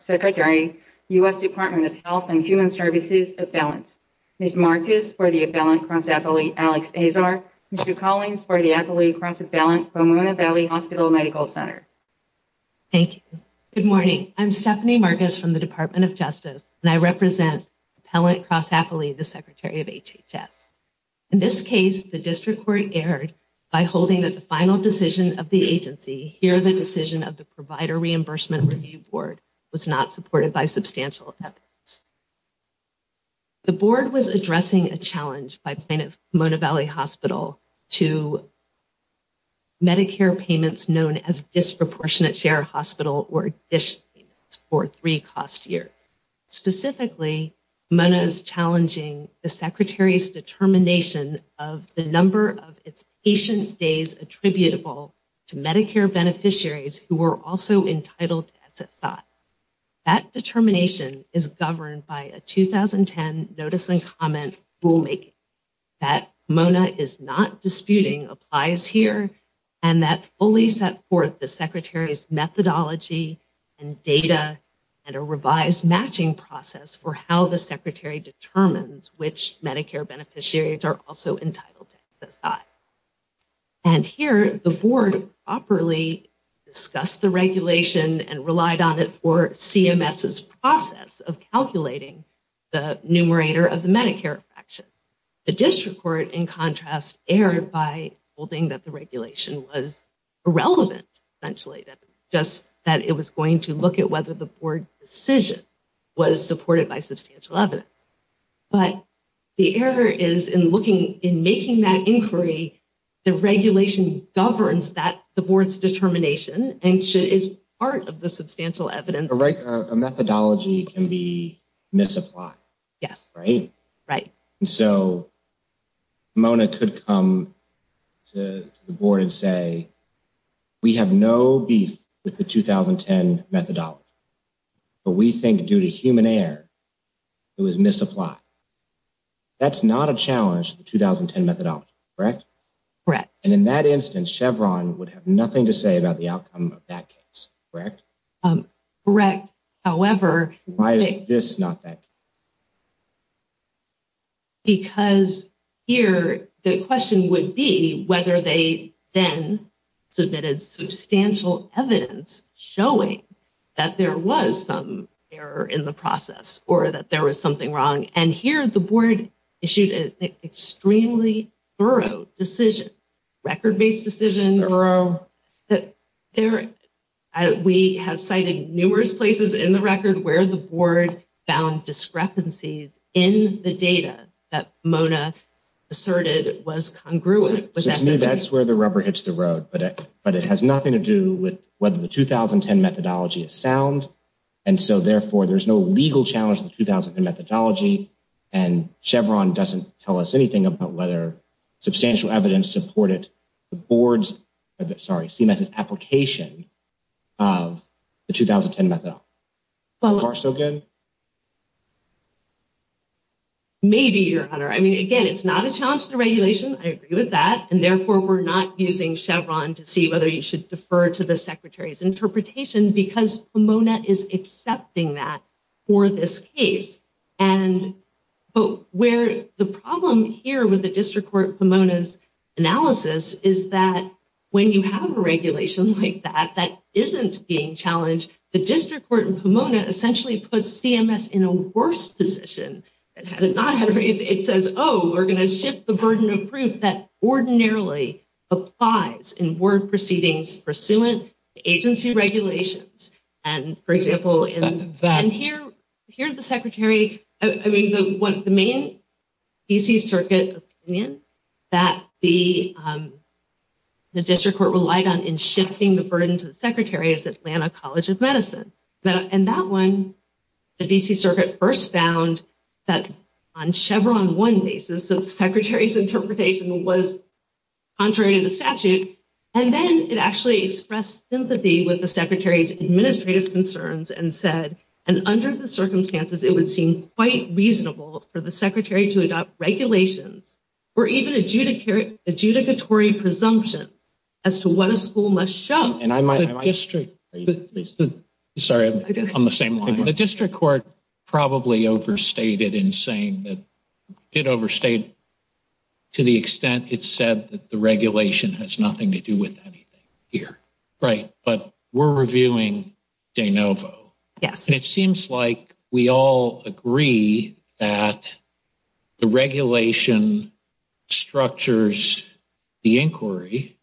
Secretary, U.S. Department of Health and Human Services, Appellant. Ms. Marcus for the Appellant Cross-Appellee, Alex Azar, and Ms. Collins for the Appellee Cross-Appellant, Pomona Valley Hospital Medical Center. Thank you. Good morning. I'm Stephanie Marcus from the Department of Justice, and I represent Appellate Cross-Appellee, the Secretary of HHS. In this case, the district court erred by holding that the final decision of the agency, here the decision of the Provider Reimbursement Review Board, was not supported by substantial evidence. The board was addressing a challenge by Pomona Valley Hospital to Medicare payments known as Disproportionate Share Hospital, or DSH, for a three-cost year. Specifically, Pomona is challenging the Secretary's determination of the number of patient stays attributable to Medicare beneficiaries who are also entitled to exit costs. That determination is governed by a 2010 notice and comment rulemaking that Pomona is not disputing applies here, and that fully set forth the Secretary's methodology and data and a revised matching process for how the Secretary determines which Medicare beneficiaries are also entitled to exit costs. And here, the board properly discussed the regulation and relied on it for CMS's process of calculating the numerator of the Medicare action. The district court, in contrast, erred by holding that the regulation was irrelevant, essentially, that it was going to look at whether the board's decision was supported by substantial evidence. But the error is, in making that inquiry, the regulation governs the board's determination and is part of the substantial evidence. Right, a methodology can be misapplied, right? And so, Pomona could come to the board and say, we have no beef with the 2010 methodology, but we think due to human error, it was misapplied. That's not a challenge to the 2010 methodology, correct? Correct. And in that instance, Chevron would have nothing to say about the outcome of that case, correct? Correct. However... Why is this not that case? Because here, the question would be whether they then submitted substantial evidence showing that there was some error in the process or that there was something wrong. And here, the board issued an extremely thorough decision, record-based decision. In the room, we have cited numerous places in the record where the board found discrepancies in the data that Pomona asserted was congruent. To me, that's where the rubber hits the road. But it has nothing to do with whether the 2010 methodology is sound. And so, therefore, there's no legal challenge to the 2010 methodology. And Chevron doesn't tell us anything about whether substantial evidence supported the CMS's application of the 2010 methodology. Well... Are we still good? Maybe, Your Honor. I mean, again, it's not a challenge to the regulation. I agree with that. And therefore, we're not using Chevron to see whether you should defer to the Secretary's interpretation because Pomona is accepting that for this case. And where the problem here with the District Court Pomona's analysis is that when you have a regulation like that that isn't being challenged, the District Court in Pomona essentially puts CMS in a worse position. It says, oh, we're going to shift the burden of proof that ordinarily applies in word proceedings pursuant to agency regulations. And, for example, in... And here's the Secretary's... I mean, what the main DC Circuit's opinion that the District Court relied on in shifting the burden to the Secretary is the Atlanta College of Medicine. And that one, the DC Circuit first found that on Chevron one basis, the Secretary's interpretation was contrary to the statute. And then it actually expressed sympathy with the Secretary's administrative concerns and said, and under the circumstances, it would seem quite reasonable for the Secretary to adopt regulations or even adjudicatory presumptions as to what a school must show. And I might... The District... Sorry. I'm on the same line. The District Court probably overstated in saying that it overstated to the extent it that the regulation has nothing to do with anything here. Right. But we're reviewing De Novo. Yeah. And it seems like we all agree that the regulation structures the inquiry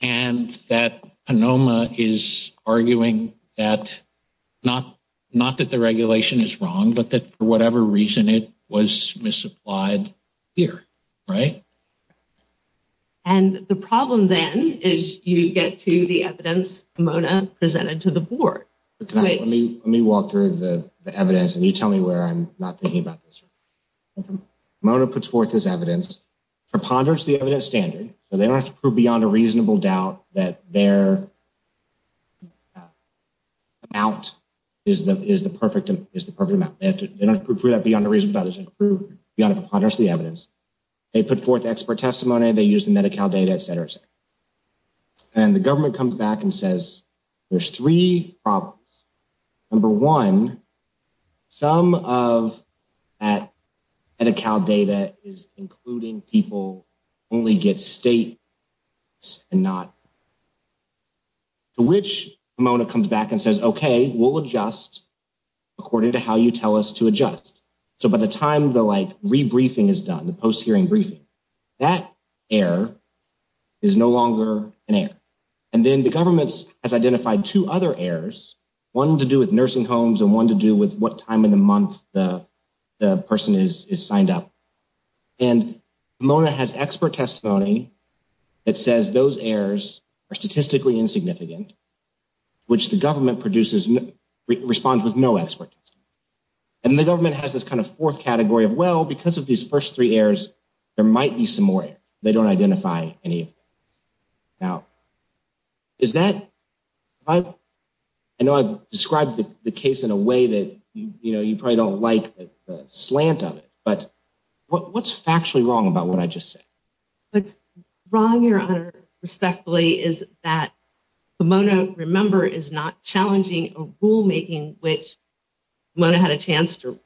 and that Ponoma is arguing that not that the regulation is wrong, but that for whatever reason, it was misapplied here. Right? Right. And the problem then is you get to the evidence Mona presented to the board. Let's wait. Let me walk through the evidence and you tell me where I'm not thinking about this. Mona puts forth this evidence, preponderance of the evidence standard, so they don't have to prove beyond a reasonable doubt that their balance is the perfect amount. They don't have to prove that beyond a reasonable doubt, they just have to prove beyond a preponderance of the evidence. They put forth expert testimony, they use the Medi-Cal data, et cetera, et cetera. And the government comes back and says, there's three problems. Number one, some of that Medi-Cal data is including people only get state and not. Which Mona comes back and says, okay, we'll adjust according to how you tell us to adjust. So by the time the like re-briefing is done, the post hearing briefing, that error is no longer an error. And then the government has identified two other errors, one to do with nursing homes and one to do with what time in a month the person is signed up. And Mona has expert testimony that says those errors are statistically insignificant, which the government produces, responds with no expert testimony. And the government has this kind of fourth category of, well, because of these first three errors, there might be some more. They don't identify any doubt. Is that, I know I've described the case in a way that, you know, you probably don't like the slant of it, but what's actually wrong about what I just said? What's wrong, Your Honor, respectfully, is that Mona, remember, is not challenging a Mona had a chance to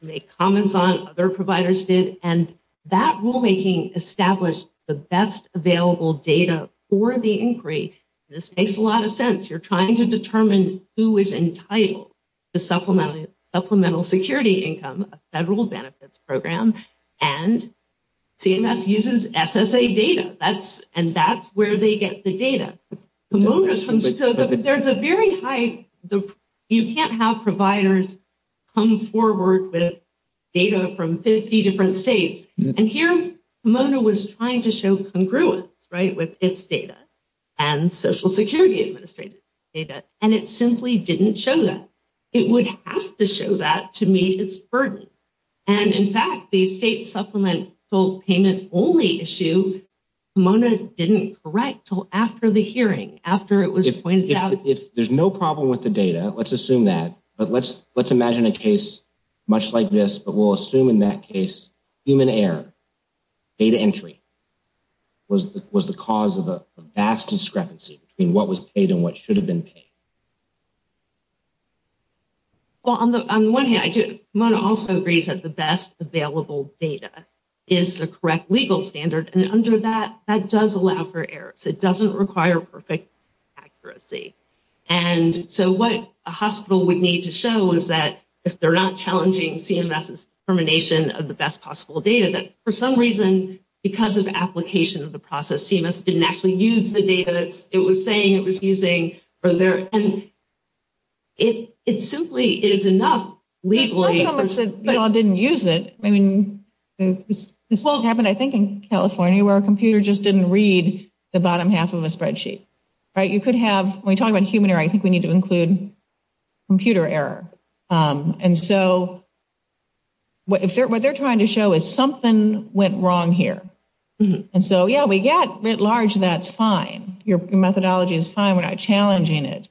make comments on, other providers did, and that rulemaking established the best available data for the inquiry. This makes a lot of sense. You're trying to determine who is entitled to supplemental security income, a federal benefits program, and CMS uses SSA data. And that's where they get the data. Mona sometimes says that there's a very high, you can't have providers come forward with data from 50 different states. And here, Mona was trying to show congruence, right, with its data and Social Security Administrator's data, and it simply didn't show that. It would have to show that to meet its burden. And in fact, the state supplement, both payments only issue, Mona didn't correct until after the hearing, after it was pointed out. If there's no problem with the data, let's assume that, but let's imagine a case much like this, but we'll assume in that case, human error, data entry, was the cause of a vast discrepancy between what was paid and what should have been paid. Well, on the one hand, I do, Mona also agrees that the best available data is the correct legal standard. And under that, that does allow for errors. It doesn't require perfect accuracy. And so what a hospital would need to show is that if they're not challenging CMS's determination of the best possible data, that for some reason, because of application of the process, CMS didn't actually use the data it was saying it was using, or their, and it simply is enough legally for- I don't know if you all didn't use it, I mean, this all happened, I think, in California where a computer just didn't read the bottom half of a spreadsheet, right? You could have, when we talk about human error, I think we need to include computer error. And so what they're trying to show is something went wrong here. And so, yeah, we got a bit large, that's fine. Your methodology is fine without challenging it.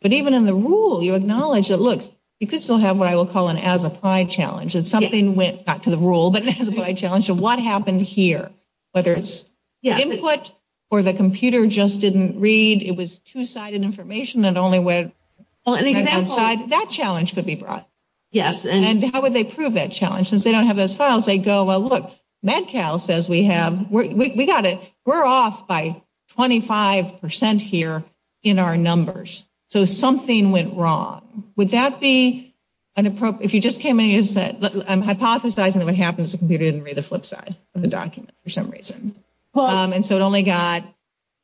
But even in the rule, you acknowledge that, look, you could still have what I will call an as-applied challenge. And something went, not to the rule, but to the as-applied challenge of what happened here. Whether it's input or the computer just didn't read, it was two-sided information that only went- Well, an example- That challenge could be brought. Yes, and- And how would they prove that challenge? Since they don't have those files, they go, well, look, Med-Cal says we have, we got it, we're off by 25% here in our numbers. So something went wrong. Would that be an appropriate, if you just came in and said, I'm hypothesizing that what happens is the computer didn't read the flip side of the document for some reason. And so it only got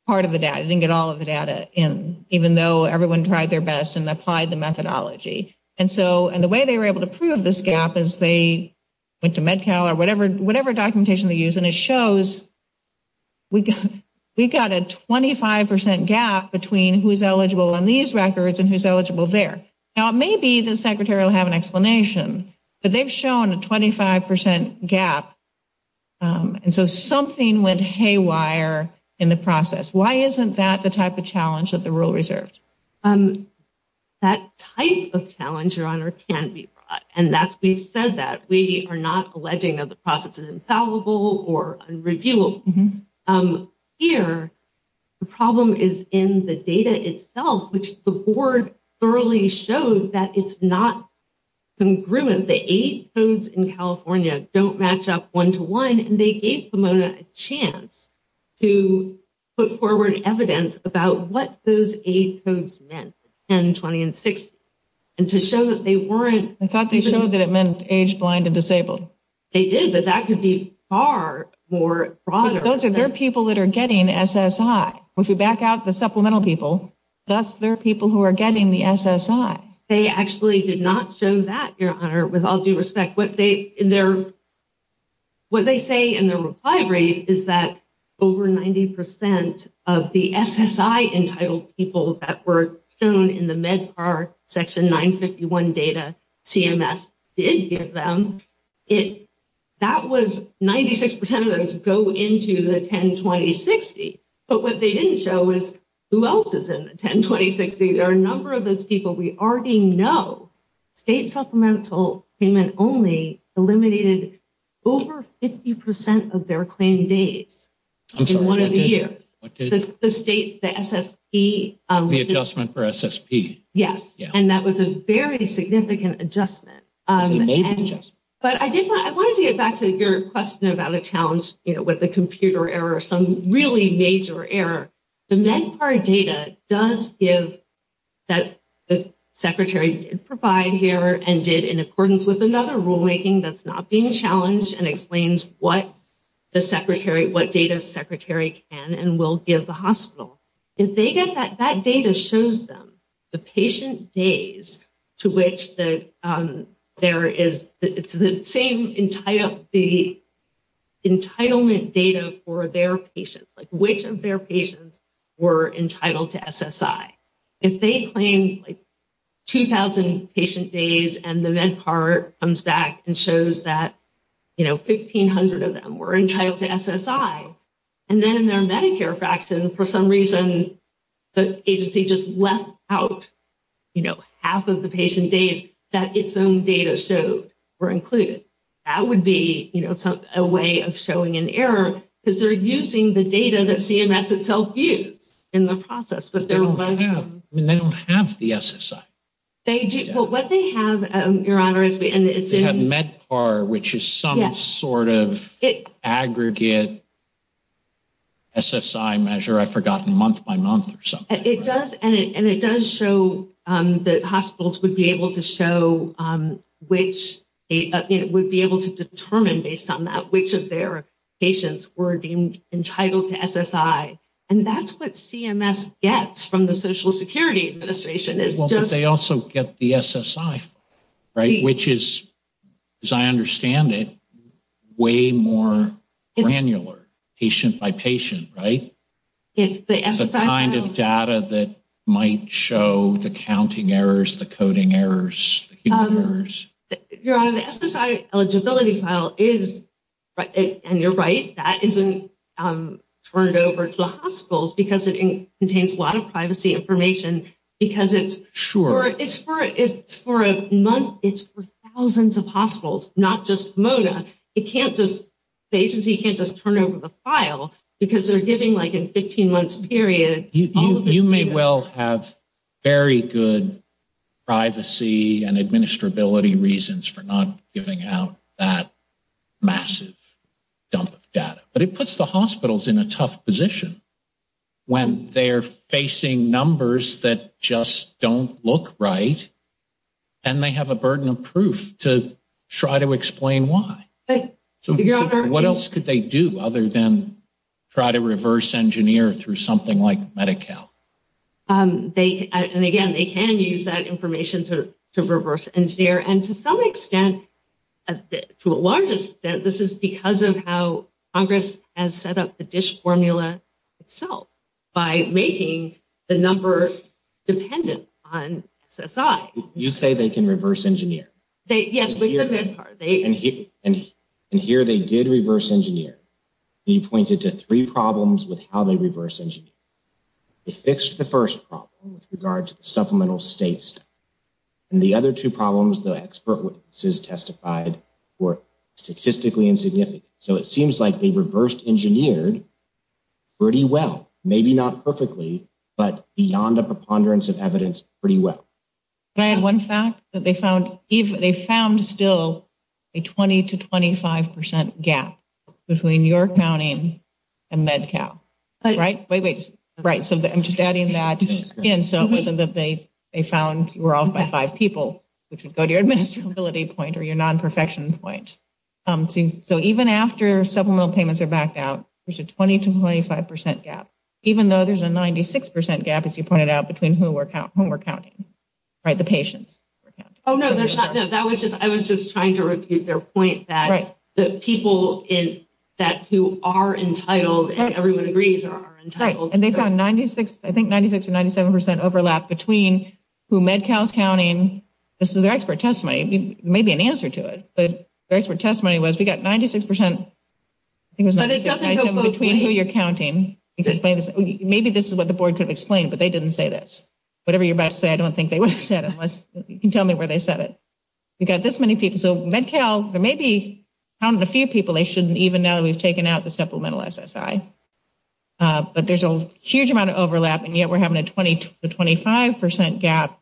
part of the data, it didn't get all of the data in, even though everyone tried their best and applied the methodology. And so, and the way they were able to prove this gap is they went to Med-Cal or whatever documentation they used, and it shows we've got a 25% gap between who's eligible on these and who's eligible there. Now, maybe the secretary will have an explanation, but they've shown a 25% gap, and so something went haywire in the process. Why isn't that the type of challenge that the rule reserves? That type of challenge, Your Honor, can be brought, and that's, we've said that. We are not alleging that the process is infallible or unreviewable. Here, the problem is in the data itself, which the board thoroughly shows that it's not congruent. The age codes in California don't match up one-to-one, and they gave Pomona a chance to put forward evidence about what those age codes meant, 10, 20, and 60, and to show that they weren't- In fact, they showed that it meant age-blind and disabled. They did, but that could be far more broader. But those are their people that are getting SSI. If you back out the supplemental people, that's their people who are getting the SSI. They actually did not show that, Your Honor, with all due respect. What they say in their reply brief is that over 90% of the SSI-entitled people that were shown in the MedCard Section 951 data CMS did give them, that was 96% of those go into the 10, 20, and 60, but what they didn't show was who else is in the 10, 20, and 60. There are a number of those people we already know. State supplemental payment only eliminated over 50% of their claim days. I'm sorry, I didn't hear. One of you. The state, the SSP- The adjustment for SSP. Yes. And that was a very significant adjustment. It's an old adjustment. But I wanted to get back to your question about a challenge with the computer error, some really major error. The MedCard data does give that the Secretary did provide here and did in accordance with There's another rulemaking that's not being challenged and explains what the Secretary, what data the Secretary can and will give the hospital. If they get that, that data shows them the patient days to which there is the same entitlement data for their patients, like which of their patients were entitled to SSI. If they claim like 2,000 patient days and the MedCard comes back and shows that, you know, 1,500 of them were entitled to SSI, and then in their Medicare faction, for some reason, the agency just left out, you know, half of the patient days that its own data shows were included, that would be, you know, a way of showing an error because they're using the data that CMS itself used in the process, but they don't have the SSI. What they have, Your Honor, is the MedCard, which is some sort of aggregate SSI measure. I've forgotten. Month by month or something. It does. And it does show that hospitals would be able to show which it would be able to determine based on that which of their patients were deemed entitled to SSI. And that's what CMS gets from the Social Security Administration. Well, but they also get the SSI, right, which is, as I understand it, way more granular, patient by patient, right? It's the SSI. The kind of data that might show the counting errors, the coding errors, the human errors. Your Honor, the SSI eligibility file is, and you're right, that isn't turned over to the hospitals because it contains a lot of privacy information because it's for a month, it's for thousands of hospitals, not just MODA. It can't just, the agency can't just turn over the file because they're giving like a 15-month period. You may well have very good privacy and administrability reasons for not giving out that massive dump of data. But it puts the hospitals in a tough position when they're facing numbers that just don't look right and they have a burden of proof to try to explain why. So what else could they do other than try to reverse engineer through something like Medi-Cal? They, and again, they can use that information to reverse engineer and to some extent, to a large extent, this is because of how Congress has set up the DISH formula itself by making the numbers dependent on SSI. You say they can reverse engineer? And here they did reverse engineer. He pointed to three problems with how they reverse engineered. They fixed the first problem with regards to supplemental states and the other two problems the expert witnesses testified were statistically insignificant. So it seems like they reversed engineered pretty well. Maybe not perfectly, but beyond a ponderance of evidence, pretty well. One fact that they found, they found still a 20 to 25% gap between New York County and Medi-Cal. Right? Wait, wait. Right. So I'm just adding that in so that they found we're all five people, which would go to your administrability point or your non-perfection point. So even after supplemental payments are backed out, there's a 20 to 25% gap, even though there's a 96% gap, as you pointed out, between who we're counting. Right? The patients. Oh, no. That was just, I was just trying to repeat their point that the people who are entitled, and everyone agrees, are entitled. Right. And they found 96, I think 96 or 97% overlap between who Med-Cal's counting. This is their expert testimony. It may be an answer to it, but their expert testimony was we got 96%, I think it was 96% Maybe this is what the board could have explained, but they didn't say this. Whatever you're about to say, I don't think they would have said it unless you can tell me where they said it. We've got this many people. So Med-Cal, there may be a few people they shouldn't even know we've taken out the supplemental SSI. But there's a huge amount of overlap, and yet we're having a 20 to 25% gap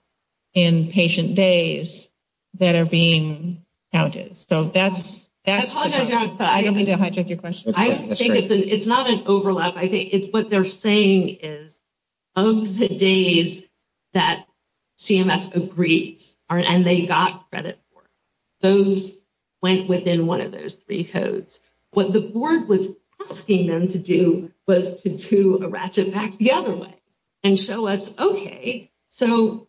in patient days that are being counted. So that's... I don't mean to hijack your question. It's not an overlap. It's what they're saying is of the days that CMS agreed and they got credit for, those went within one of those three codes. What the board was asking them to do was to do a ratchet back the other way and show us, okay, so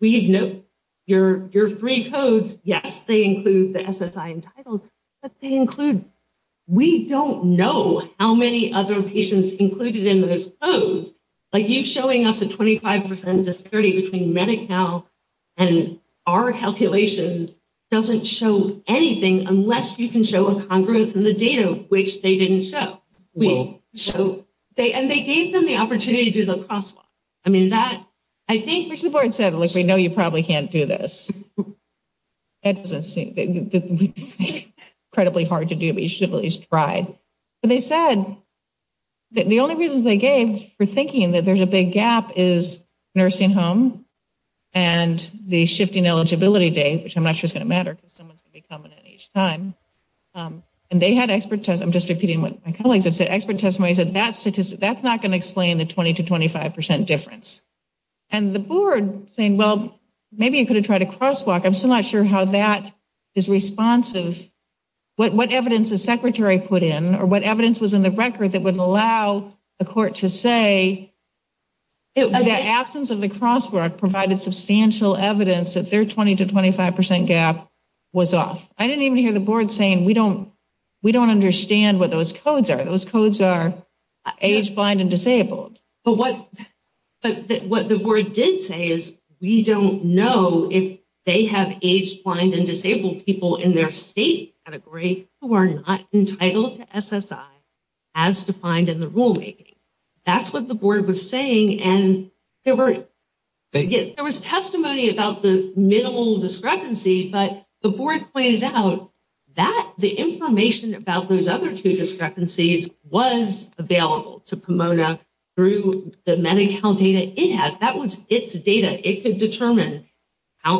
we know your three codes. Yes, they include the SSI entitled, but they include... The calculations included in those codes, like you showing us a 25% disparity between Med-Cal and our calculations doesn't show anything unless you can show a congruence in the data, which they didn't show. And they gave them the opportunity to do the crosswalk. I mean, that... I think what the board said, which I know you probably can't do this, it's incredibly hard to do, but you should at least try. But they said that the only reason they gave for thinking that there's a big gap is nursing home and the shifting eligibility date, which I'm not sure is going to matter because someone has to be coming at each time. And they had expert... I'm just repeating what my colleagues have said. Expert testimony said that's not going to explain the 20% to 25% difference. And the board saying, well, maybe you could have tried a crosswalk. I'm still not sure how that is responsive. What evidence the secretary put in or what evidence was in the record that would allow the court to say the absence of the crosswalk provided substantial evidence that their 20% to 25% gap was off. I didn't even hear the board saying, we don't understand what those codes are. Those codes are age blind and disabled. But what the board did say is we don't know if they have age blind and disabled people in their state category who are not entitled to SSI as defined in the rulemaking. That's what the board was saying. And there was testimony about the middle discrepancy, but the board pointed out that the information about those other two discrepancies was available to Pomona through the Medi-Cal data. That was its data.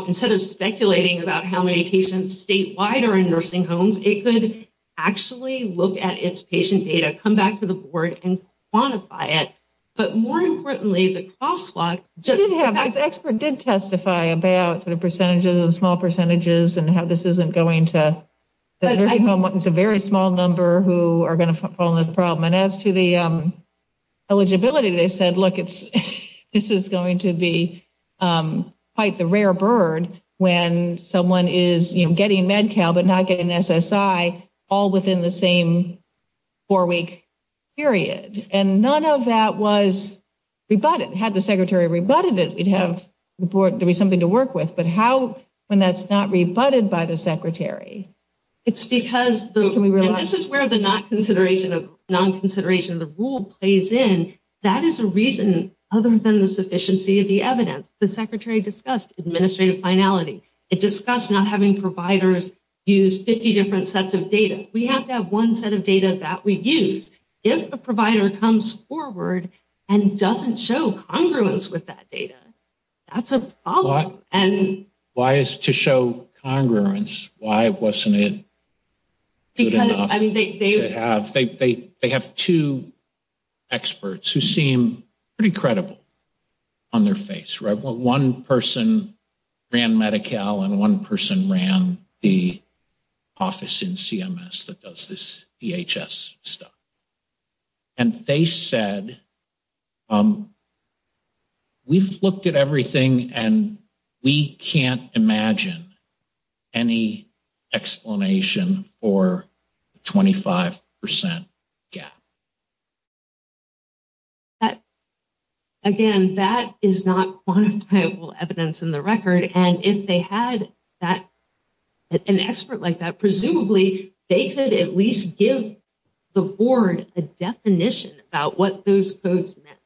Instead of speculating about how many patients statewide are in nursing homes, it could actually look at its patient data, come back to the board, and quantify it. But more importantly, the crosswalk... The expert did testify about the percentages, the small percentages, and how this isn't going to... It's a very small number who are going to fall in this problem. And as to the eligibility, they said, look, this is going to be quite the rare bird when someone is getting Med-Cal but not getting SSI all within the same four-week period. And none of that was rebutted. Had the secretary rebutted it, we'd have something to work with. But how, when that's not rebutted by the secretary? It's because this is where the non-consideration of the rule plays in. That is a reason other than the sufficiency of the evidence. The secretary discussed administrative finality. It discussed not having providers use 50 different sets of data. We have to have one set of data that we use. If a provider comes forward and doesn't show congruence with that data, that's a problem. Why is to show congruence? Why wasn't it good enough? They have two experts who seem pretty credible on their face. One person ran Med-Cal and one person ran the office in CMS that does this DHS stuff. And they said, we've looked at everything and we can't imagine any explanation for 25% gap. Again, that is not quantifiable evidence in the record. And if they had an expert like that, presumably they could at least give the board a definition about what those codes meant.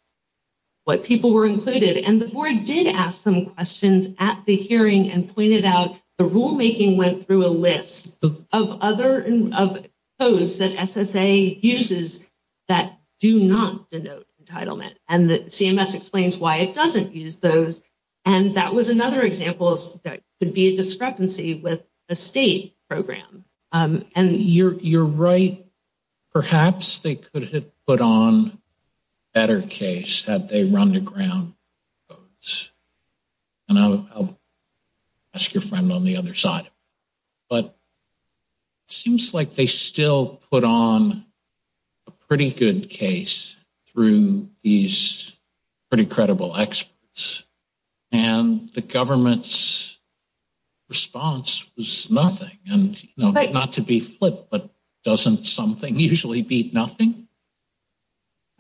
What people were included. And the board did ask some questions at the hearing and pointed out the rulemaking went through a list of codes that SSA uses that do not denote entitlement. And CMS explains why it doesn't use those. And that was another example that could be a discrepancy with the state program. And you're right. Perhaps they could have put on a better case had they run the ground codes. And I'll ask your friend on the other side. But it seems like they still put on a pretty good case through these pretty credible experts. And the government's response was nothing. Not to be flipped, but doesn't something usually beat nothing?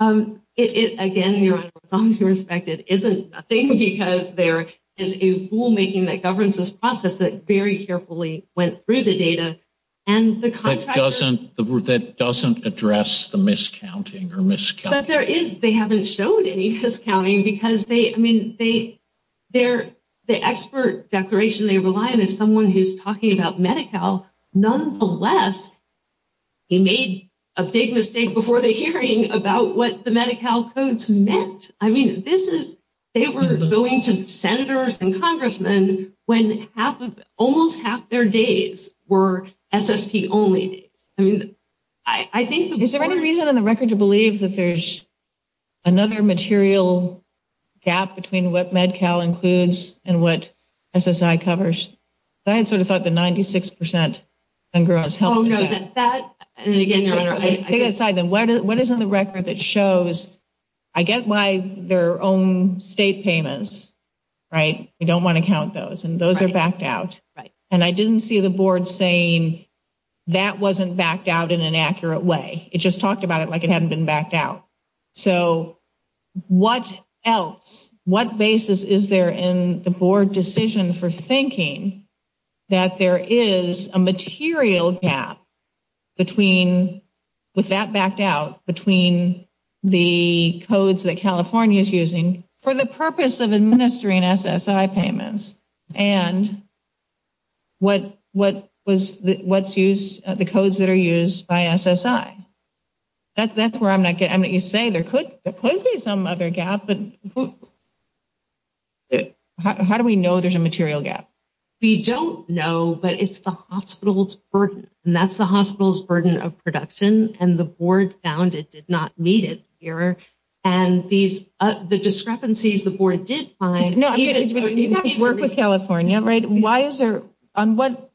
Again, from your perspective, it isn't a thing because there is a rulemaking that governs this process that very carefully went through the data. That doesn't address the miscounting or miscounting. They haven't shown any miscounting because the expert declaration they rely on is someone who's talking about Medi-Cal. Nonetheless, they made a big mistake before the hearing about what the Medi-Cal codes meant. I mean, they were going to senators and congressmen when almost half their days were SST only. Is there any reason on the record to believe that there's another material gap between what Medi-Cal includes and what SSI covers? I had sort of thought that 96% and gross. Oh, no. I take it aside then. What is on the record that shows I get why their own state payments, right? I don't want to count those. And those are backed out. Right. And I didn't see the board saying that wasn't backed out in an accurate way. It just talked about it like it hadn't been backed out. So what else, what basis is there in the board decision for thinking that there is a material gap between, with that backed out, between the codes that California is using for the purpose of administering SSI payments and what's used, the codes that are used by SSI? That's where I'm not getting. I mean, you say there could be some other gap, but how do we know there's a material gap? We don't know, but it's the hospital's burden. And that's the hospital's burden of production. And the board found it did not meet it here. And the discrepancies the board did find… No, you guys work with California, right? On what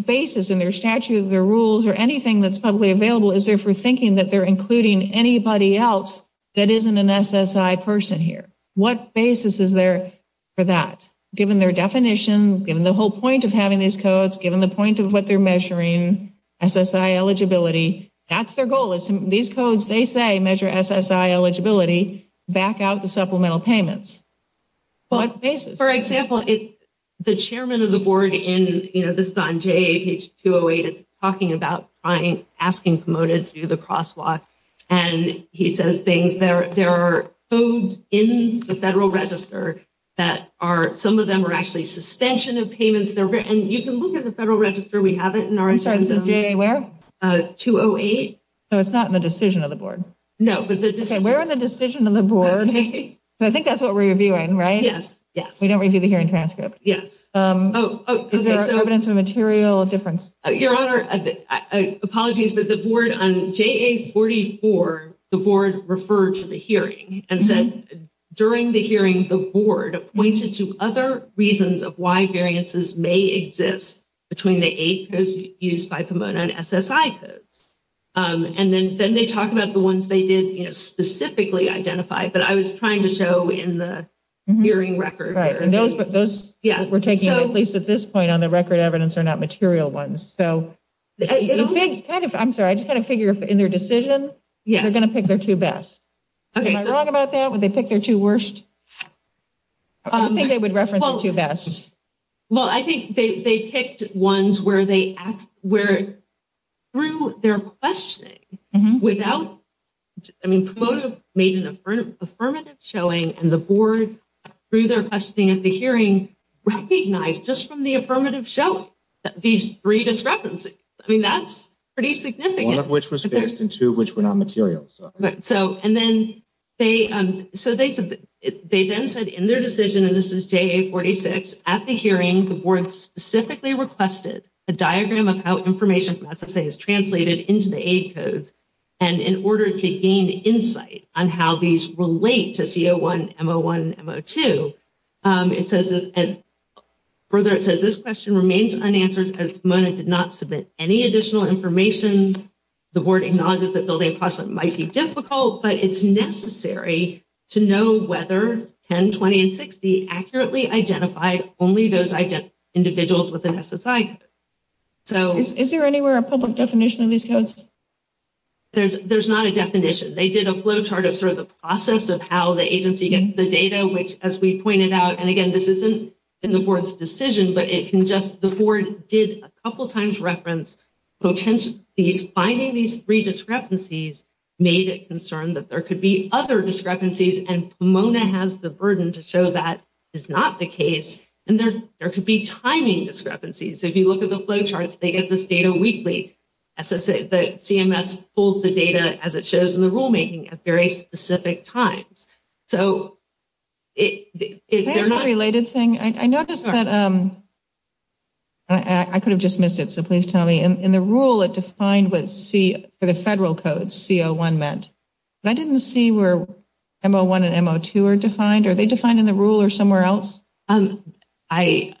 basis in their statute, their rules, or anything that's publicly available is there for thinking that they're including anybody else that isn't an SSI person here? What basis is there for that? Given their definition, given the whole point of having these codes, given the point of what they're measuring, SSI eligibility, that's their goal. These codes, they say, measure SSI eligibility, back out the supplemental payments. For example, the chairman of the board, this is on JA page 208, is talking about asking promoted to do the crosswalk. And he says there are codes in the federal register that are, some of them are actually suspension of payments. And you can look at the federal register. We have it in our agenda. JA where? 208. So it's not in the decision of the board? No. Where in the decision of the board? I think that's what we're reviewing, right? Yes. We don't review the hearing transcript. Yes. Is there evidence of material difference? Your Honor, apologies, but the board on JA 44, the board referred to the hearing and said during the hearing, the board pointed to other reasons of why variances may exist between the eight codes used by Pomona and SSI codes. And then they talk about the ones they did specifically identify. But I was trying to show in the hearing record. Right. And those were taking place at this point on the record evidence are not material ones. So I'm sorry, I just had to figure in their decision, they're going to pick their two best. Am I wrong about that? Would they pick their two worst? I don't think they would reference the two best. Well, I think they picked ones where through their questioning without, I mean, Pomona made an affirmative showing and the board through their questioning at the hearing recognized just from the affirmative show these three discrepancies. I mean, that's pretty significant. One of which was fixed and two of which were not material. And then they said in their decision, and this is JA 46, at the hearing, the board specifically requested a diagram of how information from SSI is translated into the eight codes. And in order to gain insight on how these relate to C01, M01, and M02, it says that this question remains unanswered because Pomona did not submit any additional information. The board acknowledges that building a question might be difficult, but it's necessary to know whether 10, 20, and 60 accurately identified only those individuals with an SSI. Is there anywhere a public definition of these codes? They did a flow chart of sort of the process of how the agency gets the data, which as we pointed out, and again, this isn't in the board's decision, but it can just—the board did a couple times reference potentially finding these three discrepancies made it concerned that there could be other discrepancies. And Pomona has the burden to show that is not the case. And there could be timing discrepancies. If you look at the flow charts, they get this data weekly. The CMS pulls the data as it shows in the rulemaking at very specific times. So is there— Is there a related thing? I noticed that—I could have just missed it, so please tell me. In the rule, it defined what the federal codes, C01, meant. I didn't see where M01 and M02 are defined. Are they defined in the rule or somewhere else? They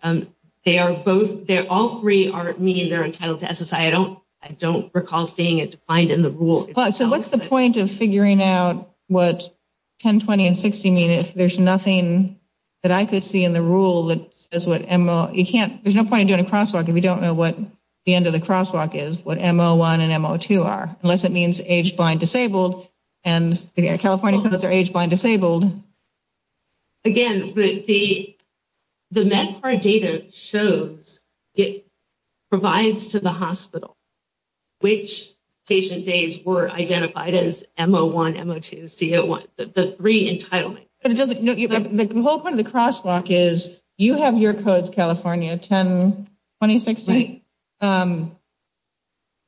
are both—all three are—means are entitled to SSI. I don't recall seeing it defined in the rule. So what's the point of figuring out what 10, 20, and 60 mean if there's nothing that I could see in the rule that says what—you can't—there's no point in doing a crosswalk if you don't know what the end of the crosswalk is, what M01 and M02 are, unless it means age-blind, disabled. And California says they're age-blind, disabled. Again, the MedCard data shows it provides to the hospital which patient days were identified as M01, M02, and C01, the three entitlements. But it doesn't—the whole point of the crosswalk is you have your codes, California, 10, 20, 60. Right.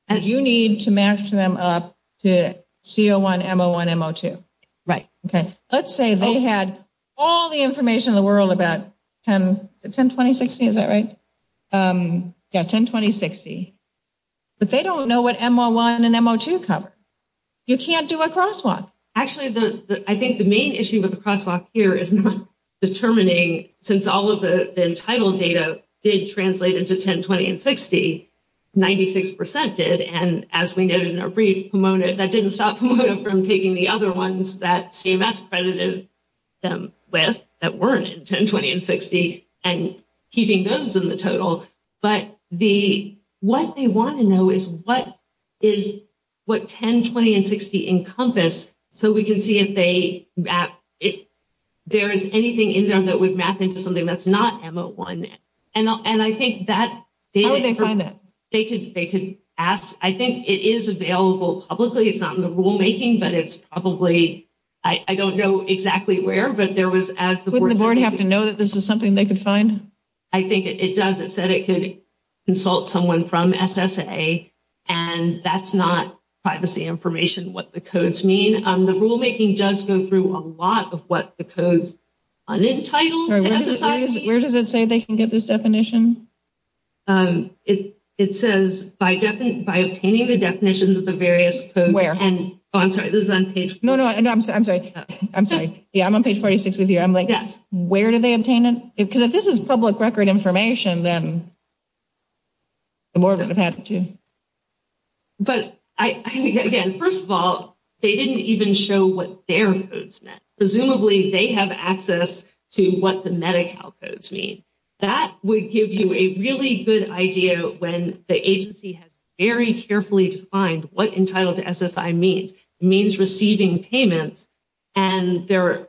And you need to match them up to C01, M01, M02. Right. Okay. Let's say they had all the information in the world about 10—10, 20, 60, is that right? Yeah, 10, 20, 60. But they don't know what M01 and M02 cover. You can't do a crosswalk. Actually, I think the main issue with the crosswalk here is not determining, since all of the entitled data did translate into 10, 20, and 60, 96% did. And as we noted in our brief, Pomona—that didn't stop Pomona from taking the other ones that CMS credited them with that weren't in 10, 20, and 60 and keeping those in the total. But the—what they want to know is what is—what 10, 20, and 60 encompass so we can see if they—if there is anything in there that would map into something that's not M01. And I think that— How would they find that? They could ask. I think it is available publicly. It's not in the rulemaking, but it's probably—I don't know exactly where, but there was— Wouldn't the board have to know that this is something they could find? I think it does. It said it could consult someone from SSA, and that's not privacy information, what the codes mean. The rulemaking does go through a lot of what the codes— Where does it say they can get this definition? It says, by obtaining the definitions of the various codes— Where? Oh, I'm sorry. This is on page— No, no. I'm sorry. I'm sorry. Yeah, I'm on page 46 of here. I'm like, where do they obtain them? Because if this is public record information, then the board would have to— But, again, first of all, they didn't even show what their codes meant. Presumably, they have access to what the Medi-Cal codes mean. That would give you a really good idea when the agency has very carefully defined what entitled to SSI means. It means receiving payment, and the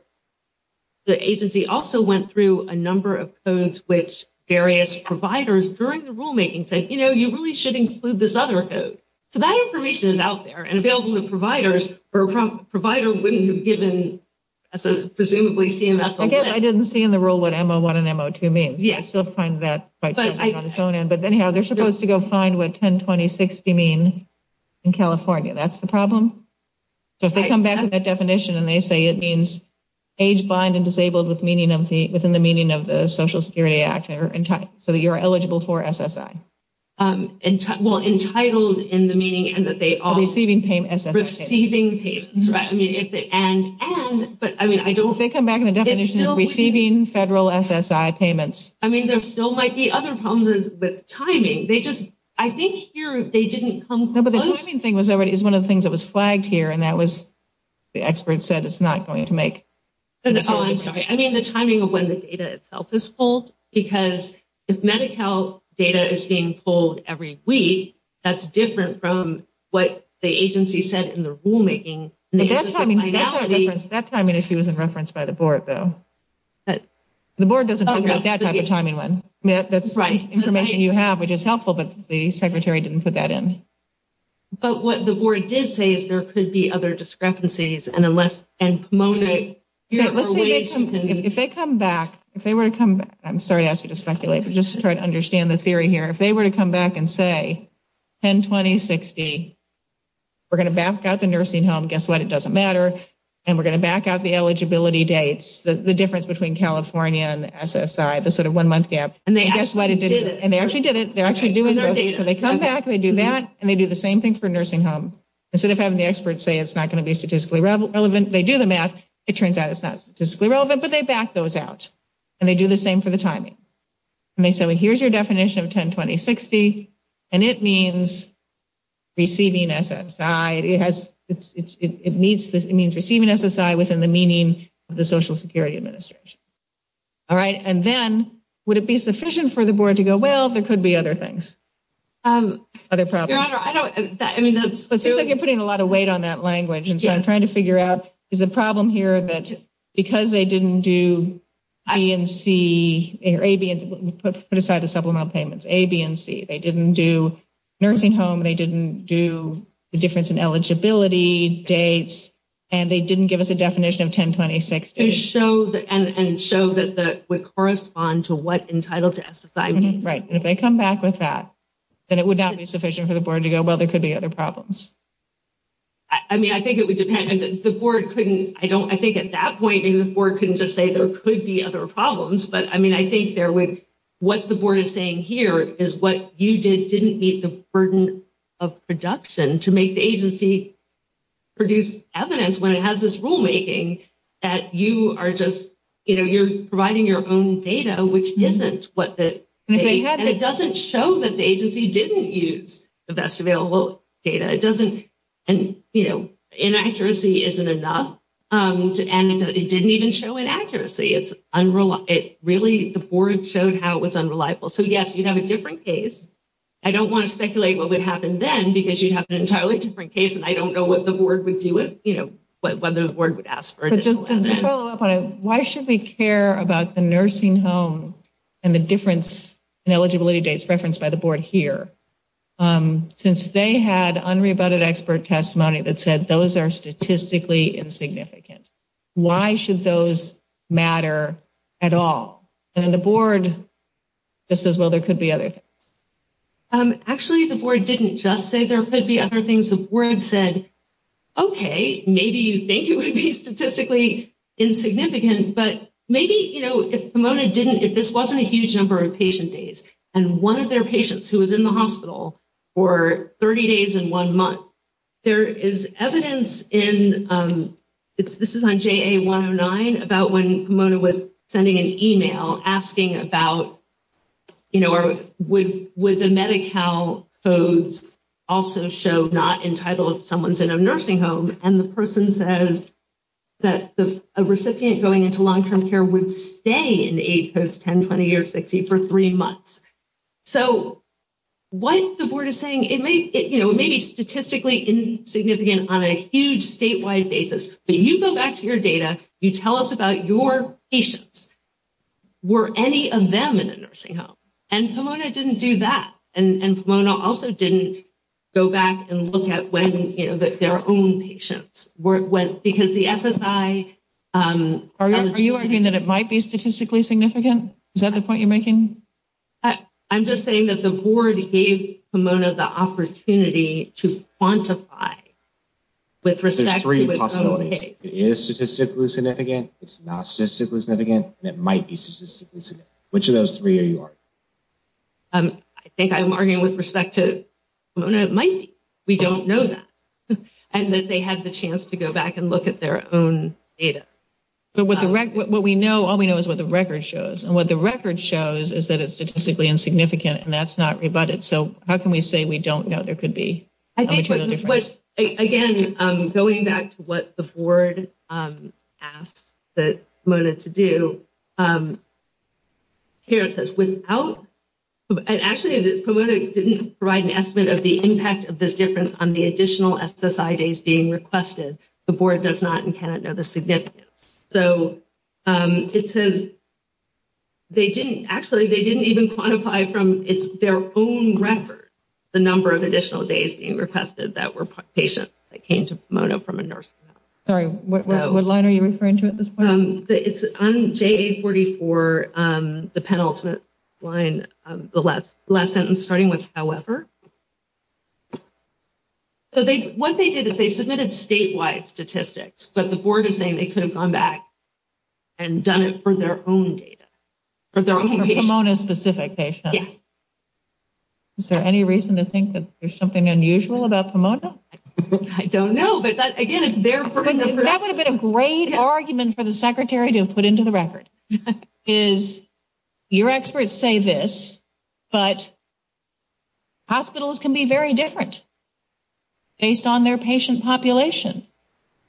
agency also went through a number of codes which various providers, during the rulemaking, said, you know, you really should include this other code. So that information is out there and available to providers, but a provider wouldn't have given—presumably— Again, I didn't see in the rule what M01 and M02 mean. Yes. I still find that quite confusing. But anyhow, they're supposed to go find what 10, 20, 60 mean in California. That's the problem? If they come back with that definition and they say it means age-blind and disabled within the meaning of the Social Security Act, so you're eligible for SSI. Well, entitled in the meaning— Receiving payment. Receiving payment, right. If they come back with a definition of receiving federal SSI payments. I mean, there still might be other problems with timing. I think here they didn't come— No, but the timing thing is one of the things that was flagged here, and that was—the expert said it's not going to make— Oh, I'm sorry. I mean the timing of when the data itself is pulled because if Medi-Cal data is being pulled every week, that's different from what the agency said in the rulemaking. That timing issue isn't referenced by the board, though. The board doesn't talk about that type of timing one. That's the information you have, which is helpful that the secretary didn't put that in. But what the board did say is there could be other discrepancies. If they come back—I'm sorry to ask you to speculate, but just to try to understand the theory here. If they were to come back and say, 10-20-60, we're going to back out the nursing home, guess what? It doesn't matter. And we're going to back out the eligibility dates, the difference between California and SSI, the sort of one-month gap. And then guess what? And they actually did it. They're actually doing it. So they come back, they do that, and they do the same thing for a nursing home. Instead of having the experts say it's not going to be statistically relevant, they do the math. It turns out it's not statistically relevant, but they back those out. And they do the same for the timing. And they say, well, here's your definition of 10-20-60, and it means receiving SSI. It means receiving SSI within the meaning of the Social Security Administration. All right? And then would it be sufficient for the board to go, well, there could be other things? Other problems? I don't—I mean, that's specific. It's like you're putting a lot of weight on that language. There's a problem here that because they didn't do A, B, and C, put aside the supplemental payments, A, B, and C. They didn't do nursing home. They didn't do the difference in eligibility dates. And they didn't give us a definition of 10-20-60. And show that it would correspond to what entitled to SSI means. Right. And if they come back with that, then it would not be sufficient for the board to go, well, there could be other problems. I mean, I think it would depend. The board couldn't—I don't—I think at that point, maybe the board couldn't just say there could be other problems. But, I mean, I think there would—what the board is saying here is what you did didn't meet the burden of production to make the agency produce evidence when it has this rulemaking that you are just—you know, you're providing your own data, which isn't what the— And it doesn't show that the agency didn't use the best available data. It doesn't—you know, inaccuracy isn't enough. And it didn't even show inaccuracy. It's unreliable. It really—the board showed how it was unreliable. So, yes, you'd have a different case. I don't want to speculate what would happen then because you'd have an entirely different case. And I don't know what the board would do with, you know, what the board would ask for. So, just to follow up on it, why should we care about the nursing home and the difference in eligibility dates referenced by the board here since they had unrebutted expert testimony that said those are statistically insignificant? Why should those matter at all? And the board just says, well, there could be other things. Actually, the board didn't just say there could be other things. The board said, okay, maybe you think it would be statistically insignificant, but maybe, you know, if Pomona didn't—if this wasn't a huge number of patient days and one of their patients who was in the hospital for 30 days and one month, there is evidence in—this is on JA109—about when Pomona was sending an email asking about, you know, would the Medi-Cal codes also show not entitled if someone's in a nursing home? And the person says that a recipient going into long-term care would stay in the age codes 10, 20, or 60 for three months. So, what the board is saying, it may be statistically insignificant on a huge statewide basis, but you go back to your data, you tell us about your patients. Were any of them in a nursing home? And Pomona didn't do that. And Pomona also didn't go back and look at when, you know, their own patients were—because the FSI— Are you arguing that it might be statistically significant? Is that the point you're making? I'm just saying that the board gave Pomona the opportunity to quantify with respect to— It is statistically significant, it's not statistically significant, and it might be statistically significant. Which of those three are you arguing? I think I'm arguing with respect to Pomona. It might be. We don't know that. And that they had the chance to go back and look at their own data. So, what we know, all we know is what the record shows. And what the record shows is that it's statistically insignificant, and that's not rebutted. So, how can we say we don't know there could be? Again, going back to what the board asked Pomona to do, here it says, without— Actually, Pomona didn't provide an estimate of the impact of this difference on the additional SSI days being requested. The board does not in Canada know the significance. So, it says they didn't—actually, they didn't even quantify from their own record the number of additional days being requested that were patients that came to Pomona from a nurse. Sorry, what line are you referring to at this point? It's on JA-44, the penultimate line, the last sentence starting with, however. So, what they did is they submitted statewide statistics, but the board is saying they could have gone back and done it for their own data, for their own patients. For Pomona-specific patients. Yeah. Is there any reason to think that there's something unusual about Pomona? I don't know, but, again, it's their— That would have been a great argument for the secretary to have put into the record, is your experts say this, but hospitals can be very different based on their patient population.